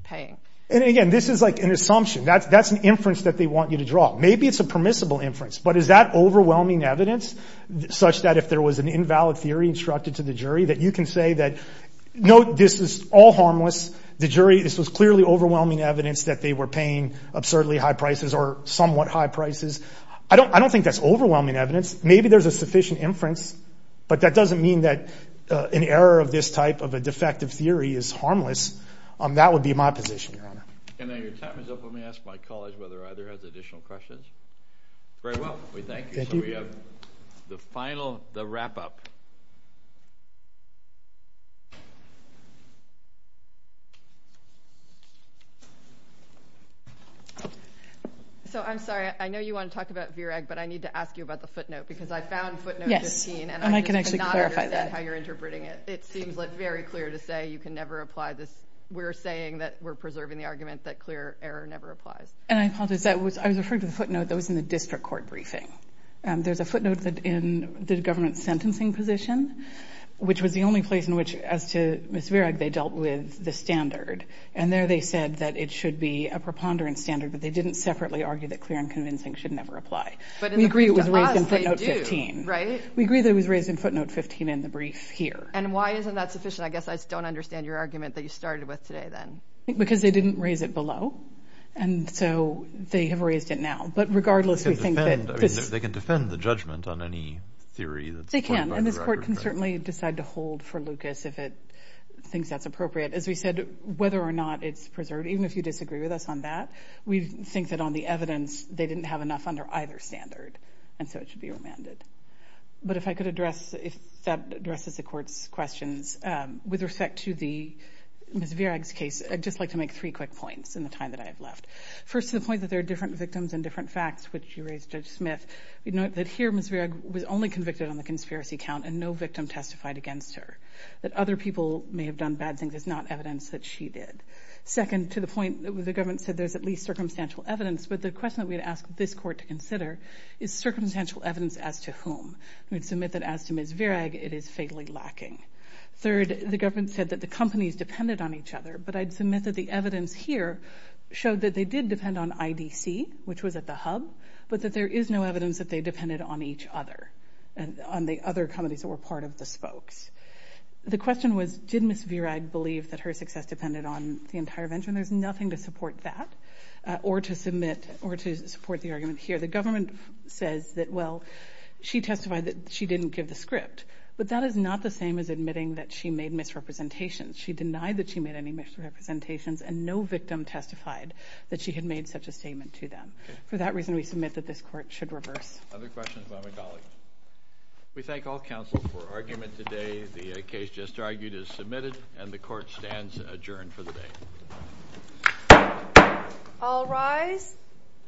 paying. And again, this is like an assumption. That's an inference that they want you to draw. Maybe it's a permissible inference, but is that overwhelming evidence, such that if there was an invalid theory instructed to the jury, that you can say that, no, this is all harmless. The jury, this is clearly overwhelming evidence that they were paying absurdly high prices or somewhat high prices. I don't think that's overwhelming evidence. Maybe there's a sufficient inference, but that doesn't mean that an error of this type of a defective theory is harmless. That would be my position, Your Honor. And then your time is up. Let me ask my colleagues whether either has additional questions. Very well, we thank you. Thank you. The final, the wrap-up. So I'm sorry, I know you want to talk about VREG, but I need to ask you about the footnote, because I found footnote 15, and I do not understand how you're interpreting it. It seems very clear to say you can never apply this. We're saying that we're preserving the argument that clear error never applies. I was referring to the footnote that was in the district court briefing. There's a footnote in the government sentencing position, which was the only place in which, as to Ms. Virag, they dealt with the standard. And there they said that it should be a preponderance standard, that they didn't separately argue that clear and convincing should never apply. We agree it was raised in footnote 15. We agree that it was raised in footnote 15 in the brief here. And why isn't that sufficient? I guess I don't understand your argument that you started with today then. Because they didn't raise it below. And so they have raised it now. They can defend the judgment on any theory. They can, and the court can certainly decide to hold for Lucas if it thinks that's appropriate. As we said, whether or not it's preserved, even if you disagree with us on that, we think that on the evidence they didn't have enough under either standard, and so it should be remanded. But if I could address, if that addresses the court's questions, with respect to Ms. Virag's case, I'd just like to make three quick points in the time that I have left. First, to the point that there are different victims and different facts, which you raised, Judge Smith. Note that here Ms. Virag was only convicted on the conspiracy count and no victim testified against her. That other people may have done bad things is not evidence that she did. Second, to the point that the government said there's at least circumstantial evidence, but the question that we'd ask this court to consider is circumstantial evidence as to whom? We submit that as to Ms. Virag, it is fatally lacking. Third, the government said that the companies depended on each other, but I'd submit that the evidence here showed that they did depend on IDC, which was at the hub, but that there is no evidence that they depended on each other and on the other companies that were part of the spokes. The question was, did Ms. Virag believe that her success depended on the entire venture? And there's nothing to support that or to support the argument here. The government says that, well, she testified that she didn't give the script, but that is not the same as admitting that she made misrepresentations. She denied that she made any misrepresentations, and no victim testified that she had made such a statement to them. For that reason, we submit that this court should reverse. Other questions by my colleagues? We thank all counsel for argument today. The case just argued is submitted, and the court stands adjourned for the day. All rise.